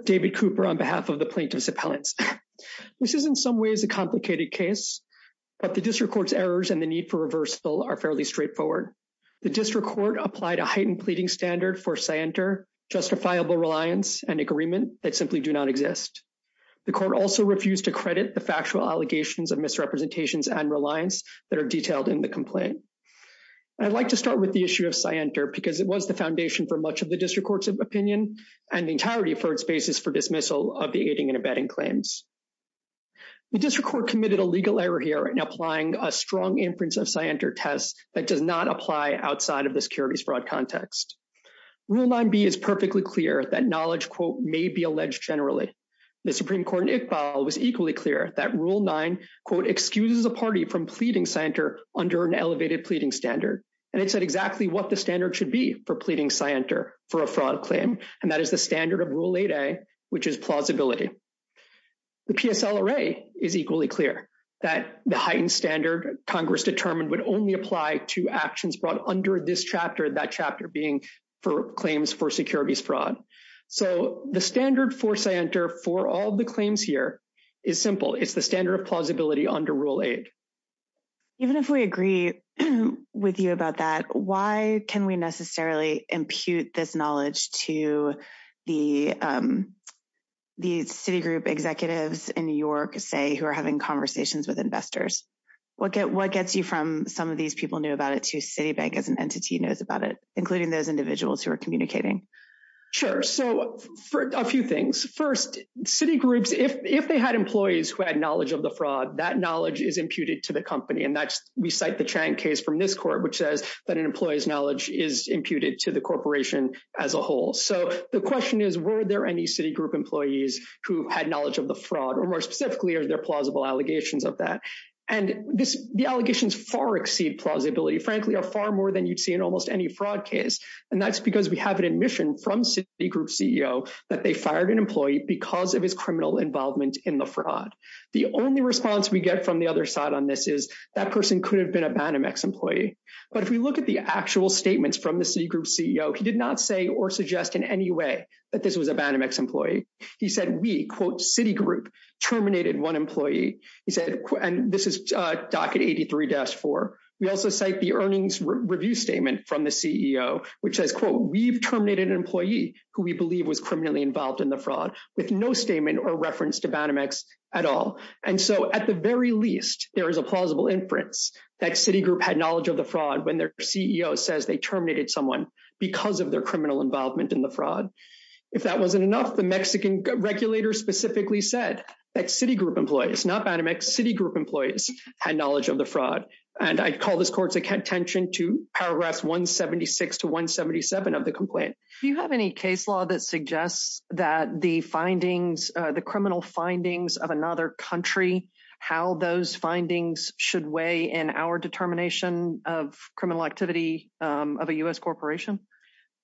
David Cooper on behalf of the plaintiff's appellate. This is in some ways a complicated case, but the district court's errors and the need for reversal are fairly straightforward. The district court applied a heightened pleading standard for scienter, justifiable reliance and agreement that simply do not exist. The court also refused to credit the factual allegations of misrepresentations and reliance that are detailed in the complaint. I'd like to start with the issue of scienter because it was the foundation for much of the entirety for its basis for dismissal of the aiding and abetting claims. The district court committed a legal error here in applying a strong inference of scienter test that does not apply outside of the securities fraud context. Rule 9b is perfectly clear that knowledge, quote, may be alleged generally. The Supreme Court in Iqbal was equally clear that rule 9, quote, excuse the party from pleading scienter under an elevated pleading standard. And it said exactly what the standard should be for pleading scienter for a fraud claim. And that is the standard of Rule 8a, which is plausibility. The PSLRA is equally clear that the heightened standard Congress determined would only apply to actions brought under this chapter, that chapter being for claims for securities fraud. So the standard for scienter for all the claims here is simple. It's the standard of plausibility under Rule 8. Even if we agree with you about that, why can we necessarily impute this knowledge to the Citigroup executives in New York, say, who are having conversations with investors? What gets you from some of these people knew about it to Citibank as an entity knows about it, including those individuals who are communicating? Sure. So a few things. First, Citigroups, if they had employees who had knowledge of the fraud, that knowledge is imputed to the company. And we cite the Chang case from this court, which says that an employee's knowledge is imputed to the corporation as a whole. So the question is, were there any Citigroup employees who had knowledge of the fraud? Or more specifically, are there plausible allegations of that? And the allegations far exceed plausibility, frankly, are far more than you'd see in almost any fraud case. And that's because we have an admission from Citigroup CEO that they fired an employee because of his criminal involvement in the fraud. The only response we get from the other side on this is that person could have been a Banamex employee. But if we look at the actual statements from the Citigroup CEO, he did not say or suggest in any way that this was a Banamex employee. He said, we, quote, Citigroup terminated one employee. He said, and this is docket 83-4. We also cite the earnings review statement from the CEO, which says, quote, we've terminated an employee who we believe was criminally involved in the fraud with no statement or reference to Banamex at all. And so at the very least, there is a plausible inference that Citigroup had knowledge of the fraud when their CEO says they terminated someone because of their criminal involvement in the fraud. If that wasn't enough, the Mexican regulator specifically said that Citigroup employees, not Banamex, Citigroup employees had knowledge of the fraud. And I call this court's attention to paragraphs 176 to 177 of the complaint. Do you have any case law that suggests that the findings, the criminal findings of another country, how those findings should weigh in our determination of criminal activity of a U.S. corporation?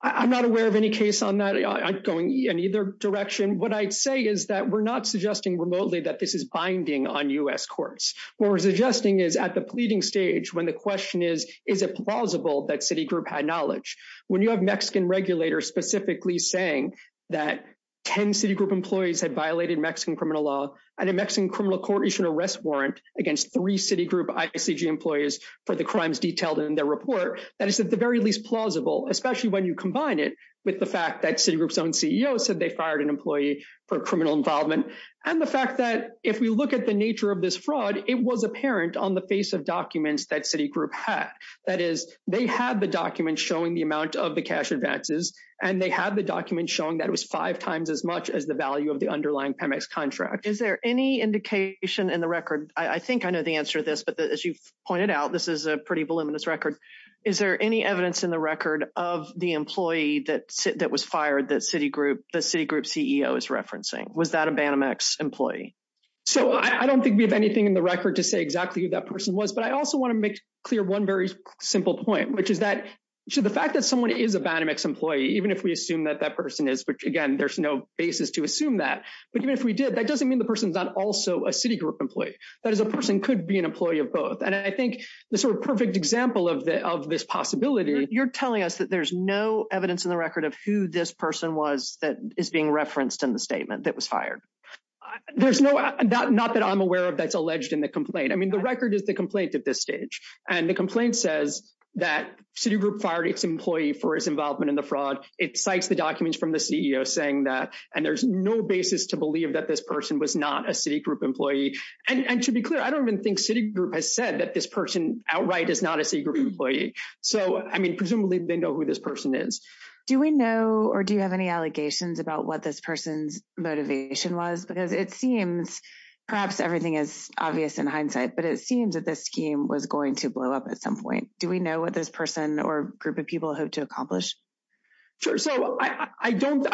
I'm not aware of any case on that. I'm going in either direction. What I say is that we're not suggesting remotely that this is binding on U.S. courts. What we're suggesting is at the pleading stage when the question is, is it plausible that Citigroup had knowledge? When you have Mexican regulators specifically saying that 10 Citigroup employees had violated Mexican criminal law and a Mexican criminal court issued an arrest warrant against three Citigroup ICG employees for the crimes detailed in their report, that is at the very least plausible, especially when you combine it with the fact that Citigroup's own CEO said they fired an employee for criminal involvement. And the fact that if we look at the nature of this fraud, it was apparent on the face of documents that Citigroup had. That is, they had the document showing the amount of the cash advances and they had the document showing that it was five times as much as the value of the underlying PEMEX contract. Is there any indication in the record? I think I know the answer to this, but as you pointed out, this is a pretty voluminous record. Is there any evidence in the record of the employee that was fired that Citigroup's CEO is referencing? Was that a PEMEX employee? So I don't think we have anything in the record to say exactly who that person was, but I also want to make clear one very simple point, which is that the fact that someone is a Banimax employee, even if we assume that that person is, but again, there's no basis to assume that, but even if we did, that doesn't mean the person's not also a Citigroup employee. That is, a person could be an employee of both. And I think the sort of perfect example of this possibility, you're telling us that there's no evidence in the record of who this person was that is being referenced in the statement that was fired. There's no, not that I'm aware of that's alleged in the complaint. I mean, the record is the complaint at this stage and the complaint says that Citigroup fired its employee for his involvement in the fraud. It cites the documents from the CEO saying that, and there's no basis to believe that this person was not a Citigroup employee. And to be clear, I don't even think Citigroup has said that this person outright is not a Citigroup employee. So, I mean, presumably they know who this person is. Do we know, or do you have any allegations about what this person's motivation was? It seems perhaps everything is obvious in hindsight, but it seems that this scheme was going to blow up at some point. Do we know what this person or group of people have to accomplish? Sure. So, I think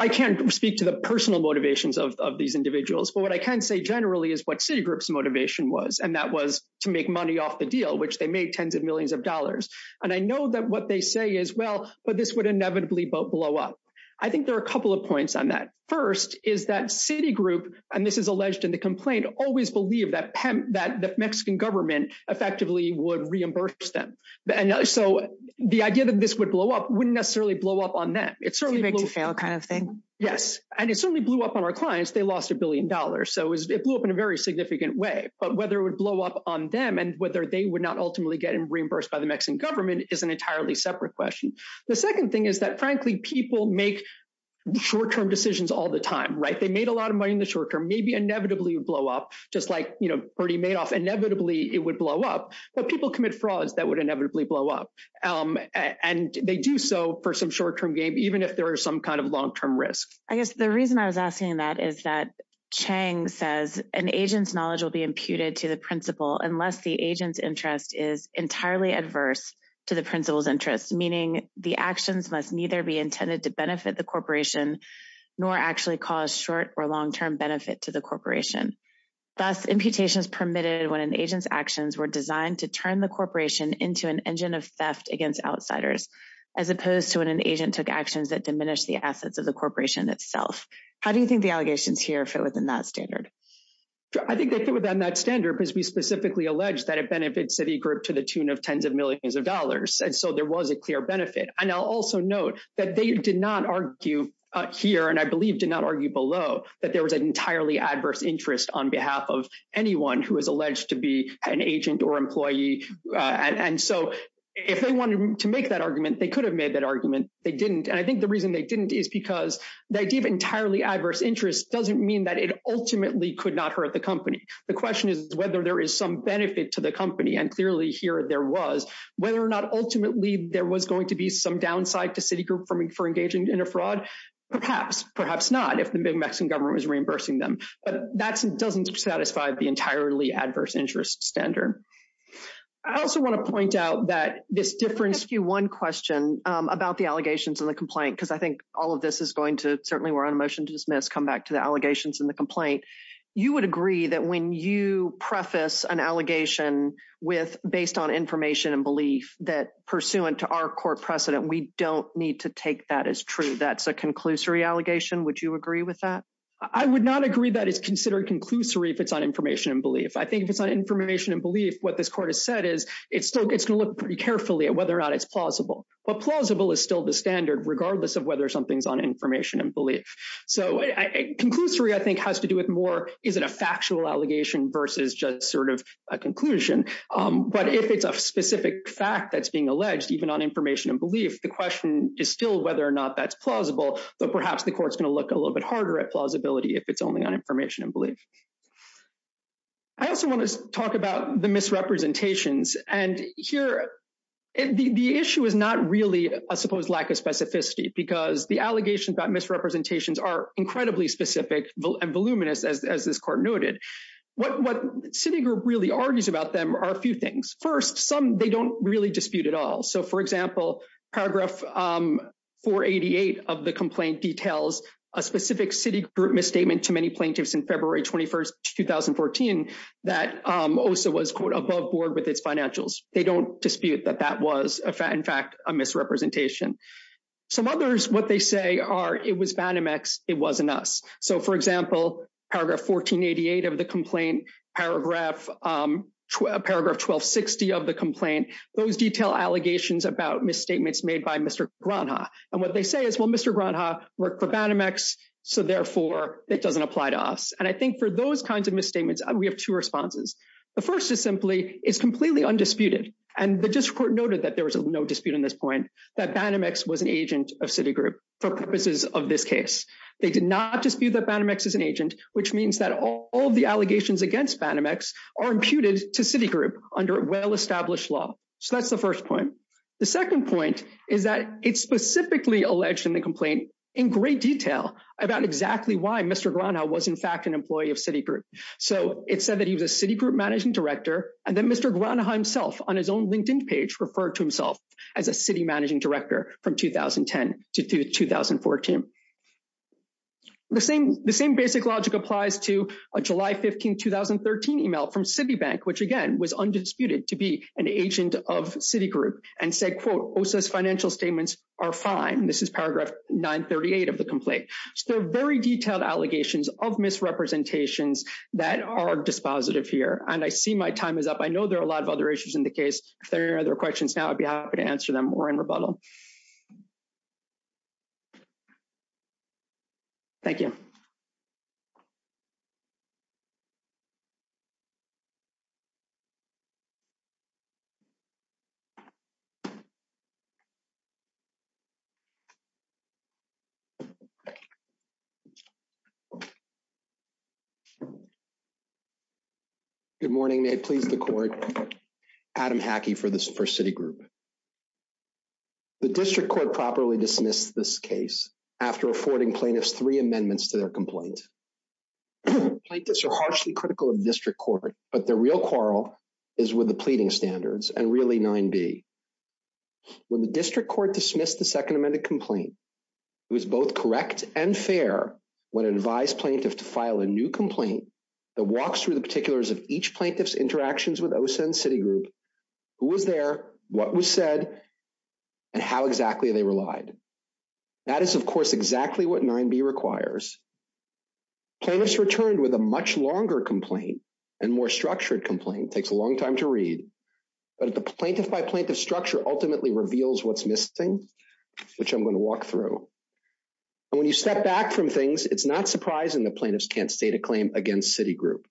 I can't speak to the personal motivations of these individuals, but what I can say generally is what Citigroup's motivation was, and that was to make money off the deal, which they made tens of millions of dollars. And I know that what they say is, well, but this would inevitably blow up. I think there are a couple of points on that. First is that Citigroup, and this is alleged in the complaint, always believed that the Mexican government effectively would reimburse them. And so, the idea that this would blow up wouldn't necessarily blow up on them. It certainly blew up on our clients. They lost a billion dollars. So, it blew up in a very significant way. But whether it would blow up on them and whether they would not ultimately get reimbursed by the Mexican government is an entirely separate question. The second thing is that, frankly, people make short-term decisions all the time, right? They made a lot of money in the short term. Maybe, inevitably, it would blow up, just like Bertie Madoff. Inevitably, it would blow up. But people commit frauds that would inevitably blow up. And they do so for some short-term gain, even if there is some kind of long-term risk. I guess the reason I was asking that is that Chang says an agent's knowledge will be imputed to the principal unless the agent's interest is entirely adverse to the principal's interest, meaning the actions must neither be intended to benefit the corporation nor actually cause short- or long-term benefit to the corporation. Thus, imputations permitted when an agent's actions were designed to turn the corporation into an engine of theft against outsiders, as opposed to when an agent took actions that diminished the assets of the corporation itself. How do you think the allegations here fit within that standard? I think they fit within that standard because we specifically allege that it benefits Citigroup to the tune of tens of millions of dollars. And so there was a clear benefit. And I'll also note that they did not argue here, and I believe did not argue below, that there was an entirely adverse interest on behalf of anyone who was alleged to be an agent or employee. And so if they wanted to make that argument, they could have made that argument. They didn't. And I think the reason they didn't is because they gave entirely adverse interest doesn't mean that it ultimately could not hurt the company. The question is whether there is some benefit to the company. And clearly here there was. Whether or not ultimately there was going to be some downside to Citigroup for engaging in a fraud. Perhaps, perhaps not, if the Mexican government was reimbursing them. But that doesn't satisfy the entirely adverse interest standard. I also want to point out that this difference... I'll ask you one question about the allegations in the complaint, because I think all of this is going to, certainly we're on a motion to dismiss, come back to the allegations in the You would agree that when you preface an allegation with based on information and belief that pursuant to our court precedent, we don't need to take that as true. That's a conclusory allegation. Would you agree with that? I would not agree that it's considered conclusory if it's on information and belief. I think if it's on information and belief, what this court has said is it still gets to look pretty carefully at whether or not it's plausible. But plausible is still the standard, regardless of whether something's on information and belief. So, conclusory, I think, has to do with more, is it a factual allegation versus just sort of a conclusion? But if it's a specific fact that's being alleged, even on information and belief, the question is still whether or not that's plausible. But perhaps the court's going to look a little bit harder at plausibility if it's only on information and belief. I also want to talk about the misrepresentations. And here, the issue is not really a supposed lack of specificity, because the allegations about misrepresentations are incredibly specific and voluminous, as this court noted. What Citigroup really argues about them are a few things. First, some they don't really dispute at all. So, for example, paragraph 488 of the complaint details a specific Citigroup misstatement to many plaintiffs in February 21st, 2014, that OSA was, quote, above board with its financials. They don't dispute that that was, in fact, a misrepresentation. Some others, what they say are, it was Banamex, it wasn't us. So, for example, paragraph 1488 of the complaint, paragraph 1260 of the complaint, those detail allegations about misstatements made by Mr. Granja. And what they say is, well, Mr. Granja worked for Banamex, so, therefore, it doesn't apply to us. And I think for those kinds of misstatements, we have two responses. The first is simply, it's completely undisputed. And the district court noted that there was no dispute in this point, that Banamex was an agent of Citigroup for purposes of this case. They did not dispute that Banamex is an agent, which means that all the allegations against Banamex are imputed to Citigroup under well-established law. So, that's the first point. The second point is that it's specifically alleged in the complaint, in great detail, about exactly why Mr. Granja was, in fact, an employee of Citigroup. So, it said that he was a Citigroup managing director, and then Mr. Granja himself, on his own LinkedIn page, referred to himself as a city managing director from 2010 to 2014. The same basic logic applies to a July 15, 2013 email from Citibank, which, again, was undisputed to be an agent of Citigroup, and said, quote, OSA's financial statements are fine. This is paragraph 938 of the complaint. So, very detailed allegations of misrepresentations that are dispositive here. And I see my time is up. I know there are a lot of other issues in the case. If there are any other questions now, I'd be happy to answer them, or in rebuttal. Thank you. Thank you. Good morning. May it please the court. Adam Hackey for Citigroup. The district court properly dismissed this case after affording plaintiffs three amendments to their complaint. Plaintiffs are harshly critical of district court, but the real quarrel is with the pleading standards, and really 9B. When the district court dismissed the second amended complaint, it was both correct and fair when it advised plaintiffs to file a new complaint that walks through the particulars of each plaintiff's interactions with OSA and Citigroup, who was there, what was said, and how exactly they relied. That is, of course, exactly what 9B requires. Plaintiffs returned with a much longer complaint and more structured complaint. It takes a long time to read, but the plaintiff by plaintiff structure ultimately reveals what's missing, which I'm going to walk through. When you step back from things, it's not surprising that plaintiffs can't state a claim against Citigroup.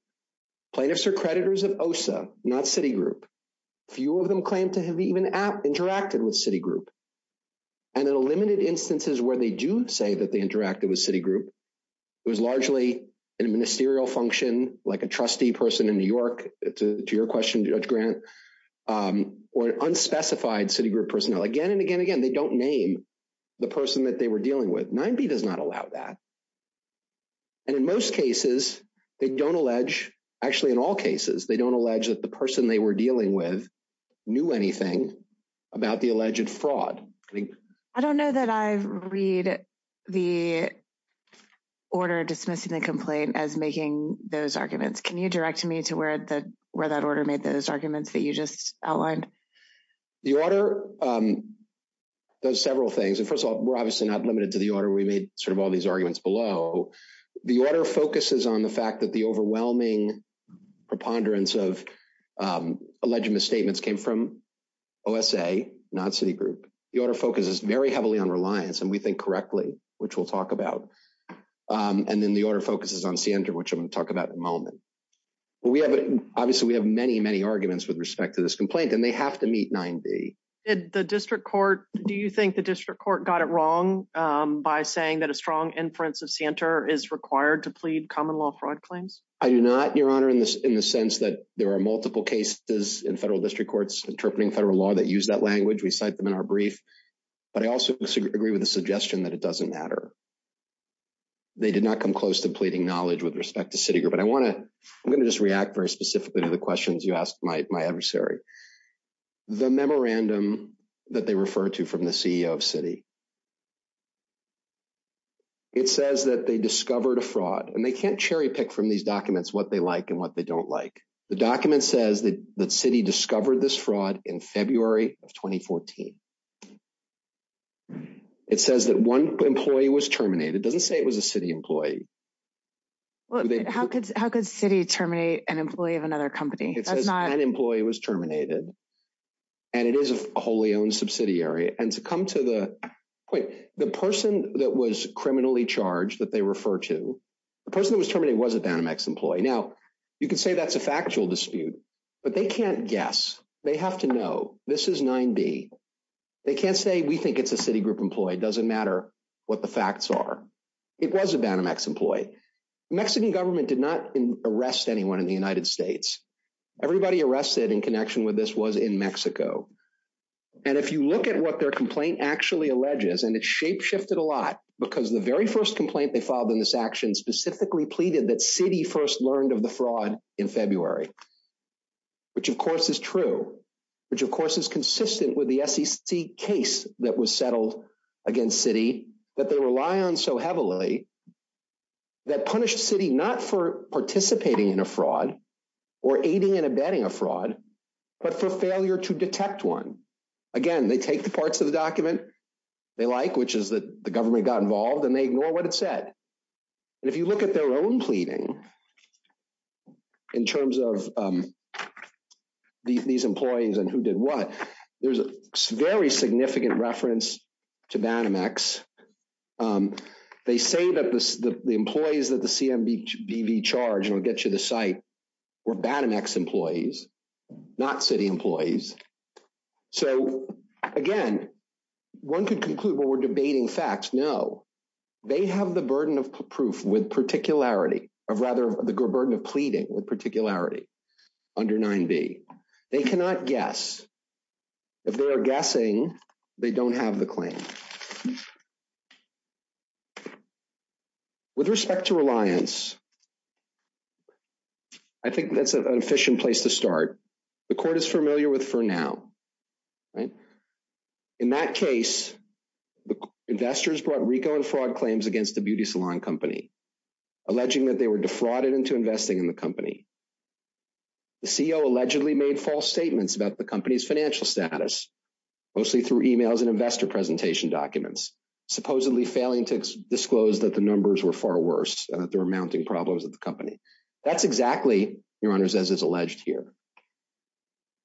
Plaintiffs are creditors of OSA, not Citigroup. Few of them claim to have even interacted with Citigroup. And in limited instances where they do say that they interacted with Citigroup, it was largely a ministerial function, like a trustee person in New York, to your question, Judge Grant, or unspecified Citigroup personnel. Again and again and again, they don't name the person that they were dealing with. 9B does not allow that. And in most cases, they don't allege, actually in all cases, they don't allege that the person they were dealing with knew anything about the alleged fraud. I don't know that I read the order dismissing the complaint as making those arguments. Can you direct me to where that order made those arguments that you just outlined? The order does several things. And first of all, we're obviously not limited to the order. We made sort of all these arguments below. The order focuses on the fact that the overwhelming preponderance of alleged misstatements came from OSA, not Citigroup. The order focuses very heavily on reliance, and we think correctly, which we'll talk about. And then the order focuses on Sienta, which I'm going to talk about in a moment. Obviously, we have many, many arguments with respect to this complaint, and they have to meet 9B. The district court, do you think the district court got it wrong by saying that a strong inference of Sienta is required to plead common law fraud claims? I do not, Your Honor, in the sense that there are multiple cases in federal district courts interpreting federal law that use that language. We cite them in our brief. But I also agree with the suggestion that it doesn't matter. They did not come close to pleading knowledge with respect to Citigroup. But I want to, I'm going to just react very specifically to the questions you asked my adversary. The memorandum that they refer to from the CEO of Citi. It says that they discovered a fraud, and they can't cherry pick from these documents what they like and what they don't like. The document says that Citi discovered this fraud in February of 2014. It says that one employee was terminated. It doesn't say it was a Citi employee. How could Citi terminate an employee of another company? An employee was terminated. And it is a wholly owned subsidiary. And to come to the point, the person that was criminally charged that they refer to, the person who was terminated was a Danamex employee. Now, you could say that's a factual dispute, but they can't guess. They have to know. This is 9D. They can't say, we think it's a Citigroup employee. Doesn't matter what the facts are. It was a Danamex employee. Mexican government did not arrest anyone in the United States. Everybody arrested in connection with this was in Mexico. And if you look at what their complaint actually alleges, and it's shapeshifted a lot, because the very first complaint they filed in this action specifically pleaded that Citi first learned of the fraud in February, which of course is true, which of course is consistent with the SEC case that was settled against Citi that they rely on so heavily that punished Citi not for participating in a fraud or aiding and abetting a fraud, but for failure to detect one. Again, they take the parts of the document they like, which is that the government got involved and they ignore what it said. And if you look at their own pleading, in terms of these employees and who did what, there's a very significant reference to Danamex. They say that the employees of the CMBV charge, and I'll get you the site, were Danamex employees, not Citi employees. So again, one could conclude that we're debating facts. No, they have the burden of proof with particularity, or rather the burden of pleading with particularity under 9b. They cannot guess. If they are guessing, they don't have the claim. With respect to reliance, I think that's an efficient place to start. The court is familiar with for now, right? In that case, the investors brought RICO and fraud claims against the beauty salon company, alleging that they were defrauded into investing in the company. The CEO allegedly made false statements about the company's financial status, mostly through emails and investor presentation documents. Supposedly failing to disclose that the numbers were far worse, that there were mounting problems with the company. That's exactly, Your Honors, as is alleged here.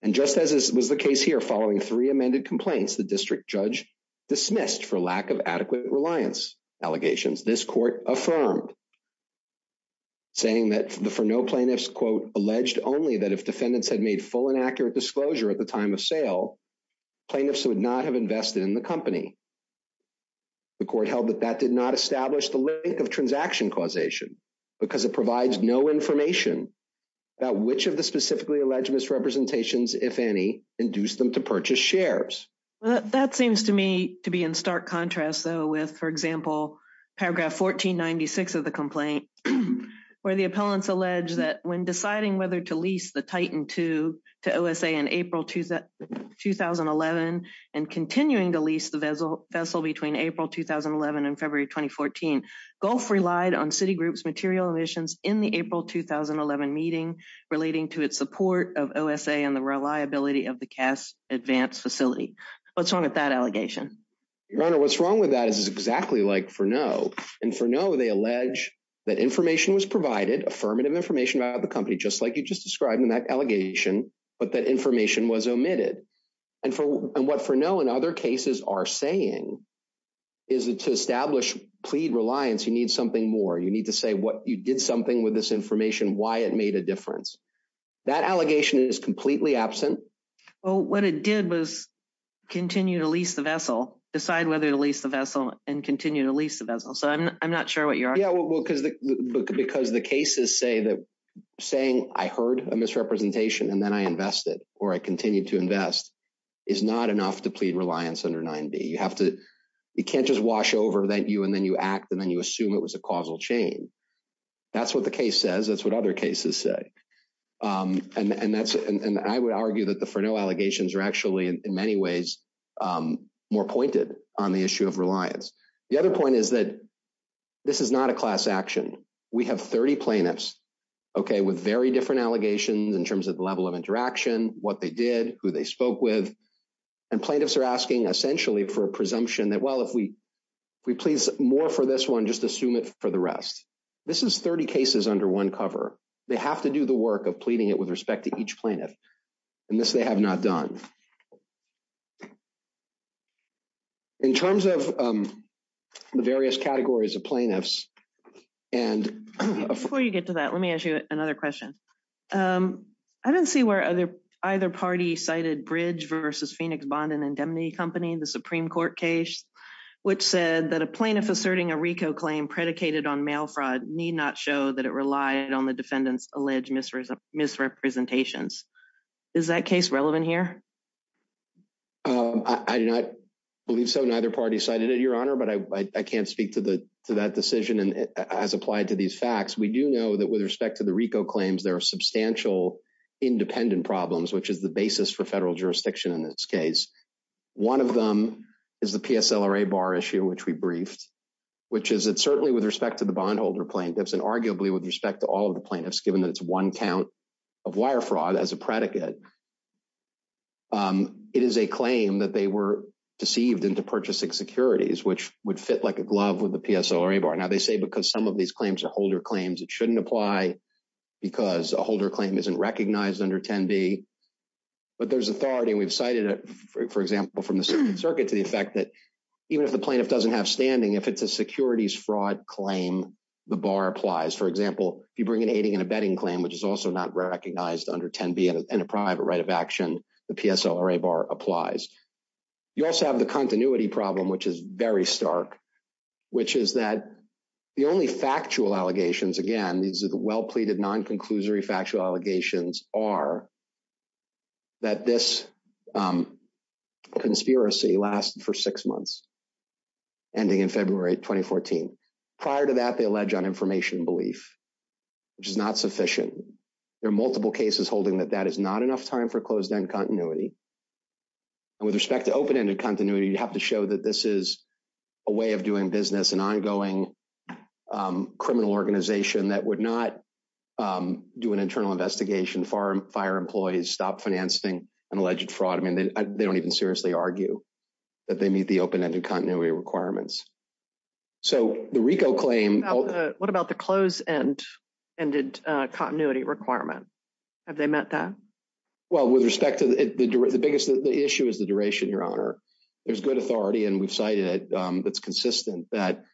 And just as was the case here, following three amended complaints, the district judge dismissed for lack of adequate reliance allegations. This court affirmed, saying that for no plaintiffs, quote, alleged only that if defendants had made full and accurate disclosure at the time of sale, plaintiffs would not have invested in the company. The court held that that did not establish the link of transaction causation, because it provides no information about which of the specifically alleged misrepresentations, if any, induced them to purchase shares. That seems to me to be in stark contrast, though, with, for example, paragraph 1496 of the complaint, where the appellants allege that when deciding whether to lease the Titan to OSA in April 2011 and continuing to lease the vessel between April 2011 and February 2014, Gulf relied on Citigroup's material emissions in the April 2011 meeting relating to its support of OSA and the reliability of the Cass Advanced Facility. What's wrong with that allegation? Your Honor, what's wrong with that is exactly like for no. And for no, they allege that information was provided, affirmative information about the allegation, but that information was omitted. And what for no and other cases are saying is that to establish plea reliance, you need something more. You need to say what you did something with this information, why it made a difference. That allegation is completely absent. Well, what it did was continue to lease the vessel, decide whether to lease the vessel and continue to lease the vessel. So I'm not sure what you're arguing. Because the cases say that saying I heard a misrepresentation and then I invested or I continue to invest is not enough to plead reliance under 9D. You have to, you can't just wash over that you and then you act and then you assume it was a causal chain. That's what the case says. That's what other cases say. And I would argue that the for no allegations are actually in many ways more pointed on the issue of reliance. The other point is that this is not a class action. We have 30 plaintiffs, okay, with very different allegations in terms of the level of interaction, what they did, who they spoke with. And plaintiffs are asking essentially for a presumption that, well, if we please more for this one, just assume it for the rest. This is 30 cases under one cover. They have to do the work of pleading it with respect to each plaintiff. And this they have not done. In terms of the various categories of plaintiffs and before you get to that, let me ask you another question. I didn't see where other either party cited bridge versus Phoenix bond and indemnity company, the Supreme Court case, which said that a plaintiff asserting a RICO claim predicated on mail fraud need not show that it relied on the defendant's alleged misrepresentations. Is that case relevant here? I do not believe so. Neither party cited it, Your Honor, but I can't speak to that decision as applied to these facts. We do know that with respect to the RICO claims, there are substantial independent problems, which is the basis for federal jurisdiction in this case. One of them is the PSLRA bar issue, which we briefed, which is that certainly with respect to the bondholder plaintiffs and arguably with respect to all of the plaintiffs, given it's one count of wire fraud as a predicate, it is a claim that they were deceived into purchasing securities, which would fit like a glove with the PSLRA bar. Now they say, because some of these claims are holder claims, it shouldn't apply because a holder claim isn't recognized under 10D, but there's authority. We've cited it, for example, from the circuit to the effect that even if the plaintiff doesn't have standing, if it's a securities fraud claim, the bar applies. For example, if you bring an aiding and abetting claim, which is also not recognized under 10B in a private right of action, the PSLRA bar applies. You also have the continuity problem, which is very stark, which is that the only factual allegations, again, these are the well-pleaded non-conclusory factual allegations, are that this conspiracy lasted for six months, ending in February 2014. Prior to that, they allege on information belief, which is not sufficient. There are multiple cases holding that that is not enough time for closed-end continuity. With respect to open-ended continuity, you have to show that this is a way of doing business, an ongoing criminal organization that would not do an internal investigation, fire employees, stop financing, and alleged fraud. They don't even seriously argue that they meet the open-ended continuity requirements. So the RICO claim- What about the closed-ended continuity requirement? Have they met that? Well, with respect to the biggest issue is the duration, Your Honor. There's good authority, and we've cited it, that's consistent, that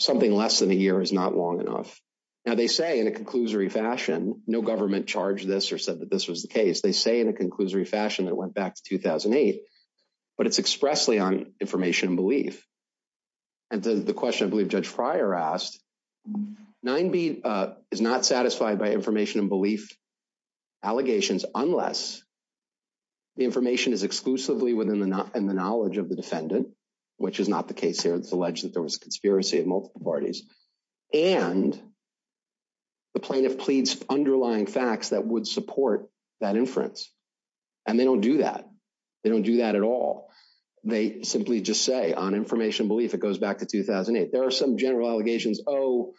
something less than a year is not long enough. Now, they say in a conclusory fashion, no government charged this or said that this was the case. They say in a conclusory fashion it went back to 2008, but it's expressly on information belief. And the question, I believe Judge Pryor asked, 9B is not satisfied by information belief allegations unless the information is exclusively within the knowledge of the defendant, which is not the case here. It's alleged that there was a conspiracy of multiple parties, and the plaintiff pleads underlying facts that would support that inference. And they don't do that. They don't do that at all. They simply just say on information belief it goes back to 2008. There are some general allegations, oh,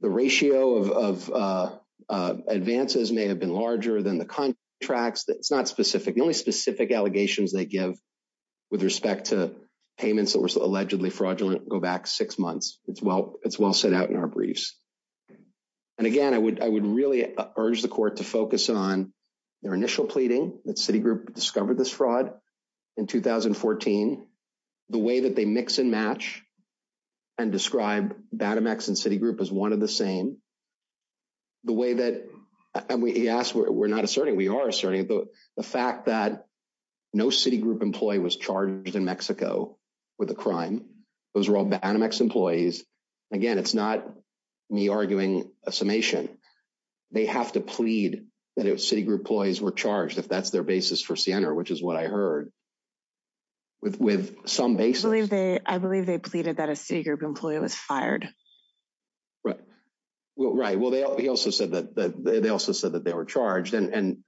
the ratio of advances may have been larger than the contracts. It's not specific. The only specific allegations they give with respect to payments that were allegedly fraudulent go back six months. It's well set out in our briefs. And again, I would really urge the Court to focus on their initial pleading that Citigroup discovered this fraud in 2014, the way that they mix and match and describe Banamex and Citigroup as one of the same, the way that, and he asked, we're not asserting, we are asserting, but the fact that no Citigroup employee was charged in Mexico with a crime, those were all Banamex employees. Again, it's not me arguing a summation. They have to plead that if Citigroup employees were charged, if that's their basis for Siena, which is what I heard, with some basis. I believe they pleaded that a Citigroup employee was fired. Right, well, they also said that they were charged and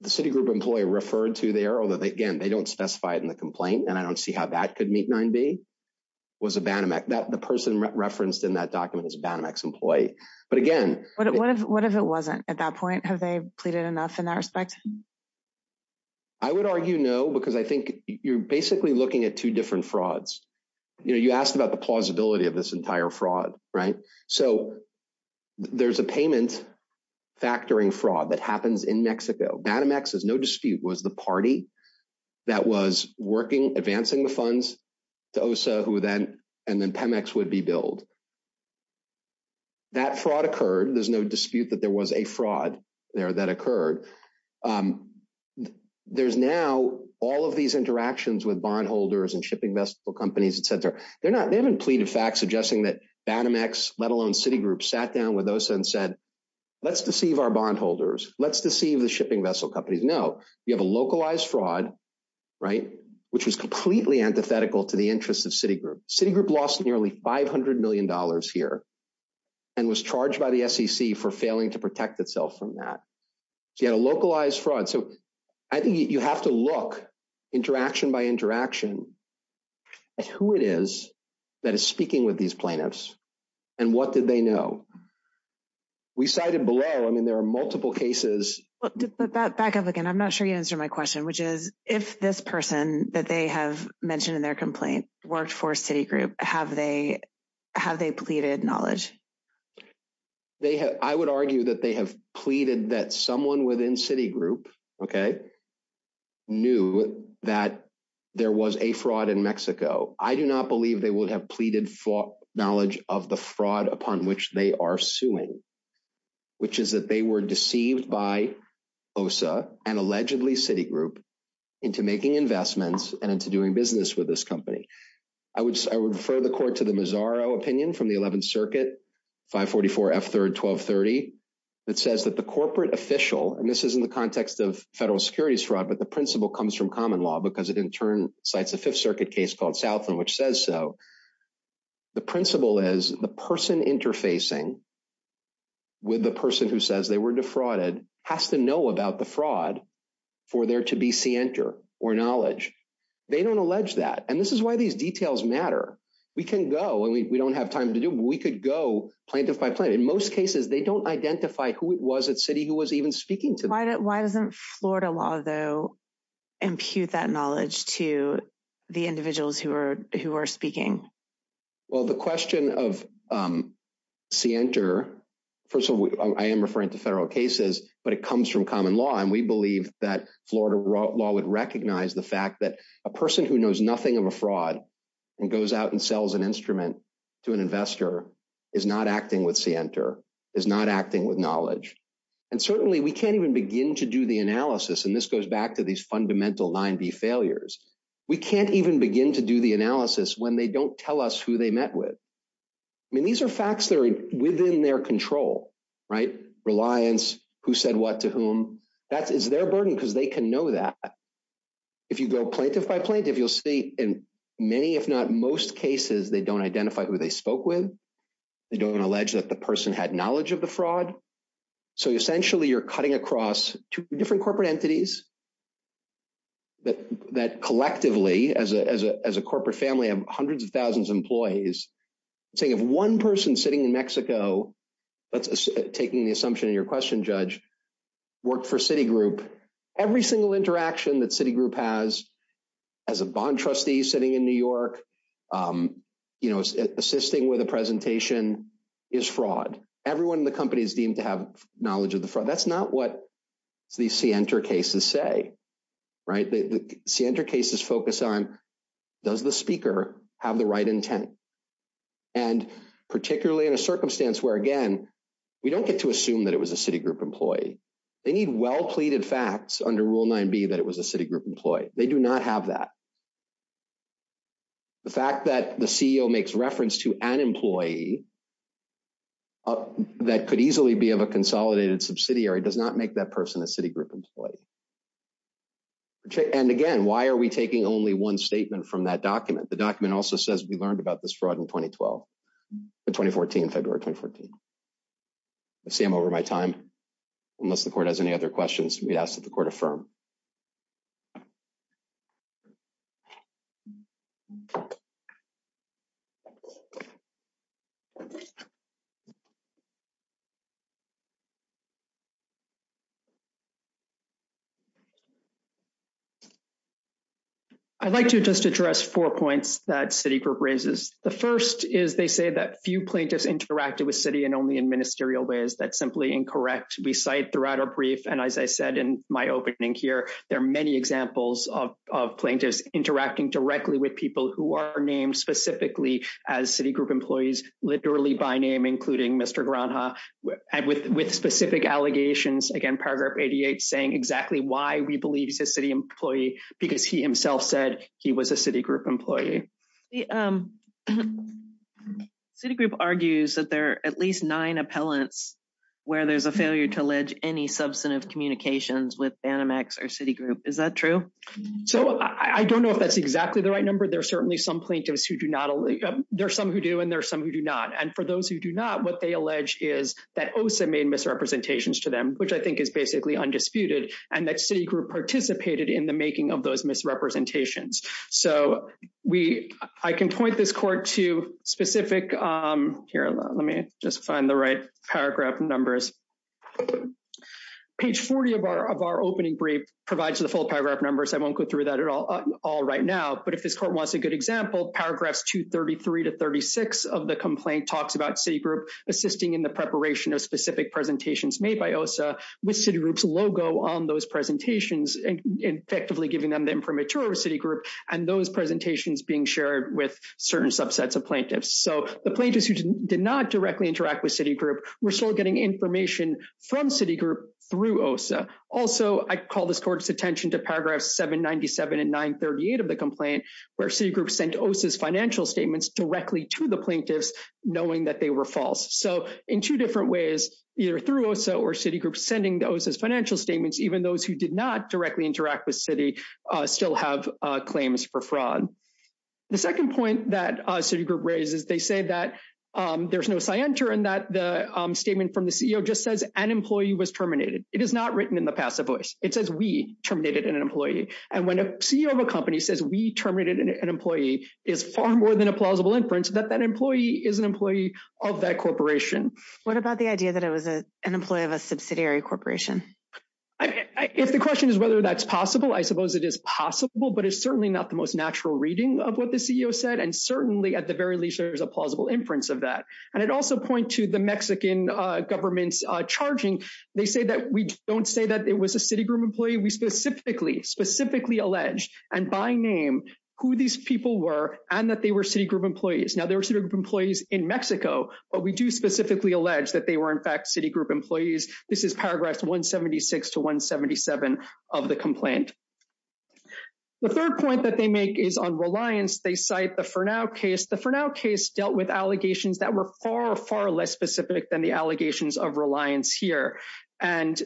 the Citigroup employee referred to there, although again, they don't specify it in the complaint and I don't see how that could meet 9B, was a Banamex. The person referenced in that document is a Banamex employee. But again, what if it wasn't at that point? Have they pleaded enough in that respect? I would argue no, because I think you're basically looking at two different frauds. You asked about the plausibility of this entire fraud, right? So there's a payment factoring fraud that happens in Mexico. Banamex, there's no dispute, was the party that was working, advancing the funds to OSA who then, and then Pemex would be billed. That fraud occurred. There's no dispute that there was a fraud there that occurred. There's now all of these interactions with bondholders and shipping vessel companies, etc. They haven't pleaded facts suggesting that Banamex, let alone Citigroup, sat down with OSA and said, let's deceive our bondholders. Let's deceive the shipping vessel companies. No, you have a localized fraud, right, which is completely antithetical to the interests of Citigroup. Citigroup lost nearly $500 million here and was charged by the SEC for failing to protect itself from that. So you had a localized fraud. So I think you have to look, interaction by interaction, at who it is that is speaking with these plaintiffs and what did they know. We cited below, I mean, there are multiple cases. But back up again, I'm not sure you answered my question, which is if this person that they have mentioned in their complaint worked for Citigroup, have they pleaded knowledge? I would argue that they have pleaded that someone within Citigroup, okay, knew that there was a fraud in Mexico. I do not believe they would have pleaded for knowledge of the fraud upon which they are suing, which is that they were deceived by OSA and allegedly Citigroup into making investments and into doing business with this company. I would refer the court to the Mazzaro opinion from the 11th Circuit, 544 F3rd 1230, that says that the corporate official, and this is in the context of federal security fraud, but the principle comes from common law because it in turn cites a Fifth Circuit case called Southland, which says so. The principle is the person interfacing with the person who says they were defrauded has to know about the fraud for there to be scienter or knowledge. They don't allege that, and this is why these details matter. We can go, and we don't have time to do, but we could go plaintiff by plaintiff. In most cases, they don't identify who it was at Citi who was even speaking to them. Why doesn't Florida law, though, impute that knowledge to the individuals who are speaking? Well, the question of scienter, first of all, I am referring to federal cases, but it comes from common law, and we believe that Florida law would recognize the fact that a person who knows nothing of a fraud and goes out and sells an instrument to an investor is not acting with scienter, is not acting with knowledge, and certainly we can't even begin to do the analysis, and this goes back to these fundamental line B failures. We can't even begin to do the analysis when they don't tell us who they met with. I mean, these are facts that are within their control, right? Reliance, who said what to whom, that is their burden because they can know that. If you go plaintiff by plaintiff, you'll see in many, if not most cases, they don't identify who they spoke with. They don't allege that the person had knowledge of the fraud, so essentially you're cutting across two different corporate entities that collectively, as a corporate family of hundreds of thousands of employees, saying if one person sitting in Mexico, taking the assumption in your question, Judge, worked for Citigroup, every single interaction that Citigroup has as a bond trustee sitting in New York, you know, assisting with a presentation is fraud. Everyone in the company is deemed to have knowledge of the fraud. That's not what these Sienta cases say, right? Sienta cases focus on does the speaker have the right intent, and particularly in a circumstance where, again, we don't get to assume that it was a Citigroup employee. They need well-pleaded facts under Rule 9b that it was a Citigroup employee. They do not have that. The fact that the CEO makes reference to an employee that could easily be of a consolidated subsidiary does not make that person a Citigroup employee. And again, why are we taking only one statement from that document? The document also says we learned about this fraud in 2012, in 2014, February 2014. I see I'm over my time. Unless the Court has any other questions, we ask that the Court affirm. I'd like to just address four points that Citigroup raises. The first is they say that few plaintiffs interacted with Citi and only in ministerial ways. That's simply incorrect. We cite throughout a brief, and as I said in my opening here, there are many examples of plaintiffs interacting directly with people who are named specifically as Citigroup employees, literally by name, including Mr. Granha, with specific allegations, again, Paragraph 88, saying exactly why we believe he's a Citigroup employee, because he himself said he was a Citigroup employee. Citigroup argues that there are at least nine appellants where there's a failure to allege any substantive communications with Banamex or Citigroup. Is that true? So I don't know if that's exactly the right number. There are certainly some plaintiffs who do not—there are some who do, and there are some who do not. And for those who do not, what they allege is that OSA made misrepresentations to them, which I think is basically undisputed, and that Citigroup participated in the making of those misrepresentations. So I can point this Court to specific—here, let me just find the right paragraph numbers. Page 40 of our opening brief provides the full paragraph numbers. I won't go through that all right now. But if this Court wants a good example, paragraphs 233 to 36 of the complaint talks about Citigroup assisting in the preparation of specific presentations made by OSA with Citigroup's logo on those presentations, and effectively giving them the information of Citigroup, and those presentations being shared with certain subsets of plaintiffs. So the plaintiffs who did not directly interact with Citigroup were still getting information from Citigroup through OSA. Also, I call this Court's attention to paragraphs 797 and 938 of the complaint, where Citigroup sent OSA's financial statements directly to the plaintiffs, knowing that they were false. So in two different ways, either through OSA or Citigroup sending those financial statements, even those who did not directly interact with Citigroup still have claims for fraud. The second point that Citigroup raises, they say that there's no scienter, and that the statement from the CEO just says, an employee was terminated. It is not written in the passive voice. It says, we terminated an employee. And when a CEO of a company says, we terminated an employee, it's far more than a plausible inference that that employee is an employee of that corporation. What about the idea that it was an employee of a subsidiary corporation? If the question is whether that's possible, I suppose it is possible, but it's certainly not the most natural reading of what the CEO said. And certainly, at the very least, there is a plausible inference of that. And I'd also point to the Mexican government's charging. They say that we don't say that it was a Citigroup employee. We specifically, specifically allege, and by name, who these people were, and that they were Citigroup employees. Now, they were Citigroup employees in Mexico, but we do specifically allege that they were, in fact, Citigroup employees. This is paragraphs 176 to 177 of the complaint. The third point that they make is on reliance. They cite the Fernao case. The Fernao case dealt with allegations that were far, far less specific than the allegations of reliance here. And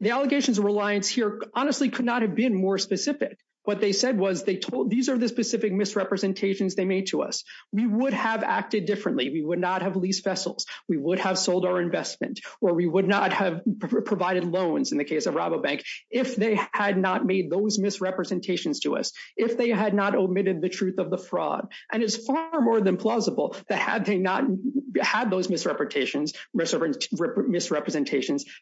the allegations of reliance here honestly could not have been more specific. What they said was they told, these are the specific misrepresentations they made to us. We would have acted differently. We would not have leased vessels. We would have sold our investment, or we would not have provided loans in the case of Rabobank if they had not made those misrepresentations to us, if they had not omitted the truth of the fraud. And it's far more than plausible that had they not had those misrepresentations,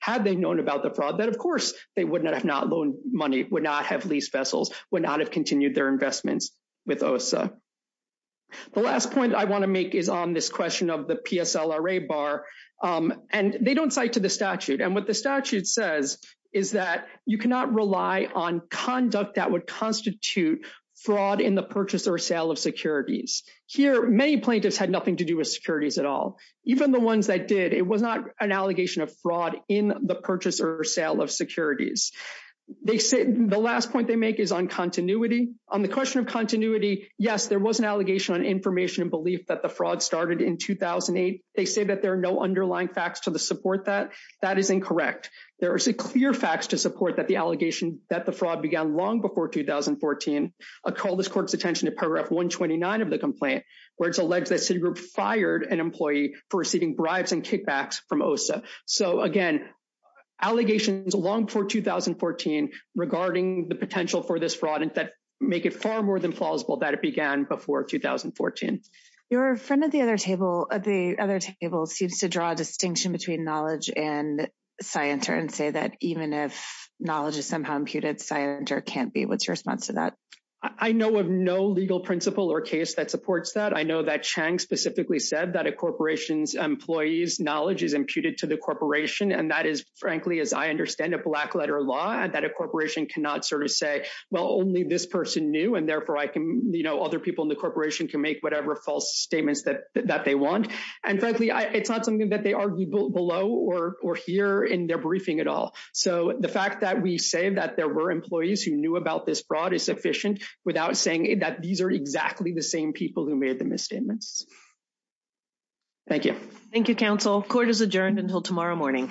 had they known about the fraud, that, of course, they would not have not loaned money, would not have leased vessels, would not have continued their investments with OSA. The last point I want to make is on this question of the PSLRA bar. And they don't cite to the statute. And what the statute says is that you cannot rely on conduct that would constitute fraud in the purchase or sale of securities. Here, many plaintiffs had nothing to do with securities at all. Even the ones that did, it was not an allegation of fraud in the purchase or sale of securities. The last point they make is on continuity. On the question of continuity, yes, there was an allegation on information and belief that the fraud started in 2008. They say that there are no underlying facts to support that. That is incorrect. There are clear facts to support that the allegation that the fraud began long before 2014. I call this court's attention to paragraph 129 of the complaint, where it's alleged that Citigroup fired an employee for receiving bribes and kickbacks from OSA. So, again, allegations long before 2014 regarding the potential for this fraud make it far more than plausible that it began before 2014. Your friend at the other table seems to draw a distinction between knowledge and scienter and say that even if knowledge is somehow imputed, scienter can't be able to respond to that. I know of no legal principle or case that supports that. I know that Chang specifically said that a corporation's employee's knowledge is imputed to the corporation, and that is, frankly, as I understand it, black-letter law, and that a corporation cannot sort of say, well, only this person knew, and therefore I can, you know, other people in the corporation can make whatever false statements that they want. And frankly, it's not something that they argued below or here in their briefing at all. So the fact that we say that there were employees who knew about this fraud is sufficient without saying that these are exactly the same people who made the misstatements. Thank you. Thank you, counsel. Court is adjourned until tomorrow morning. Thank you.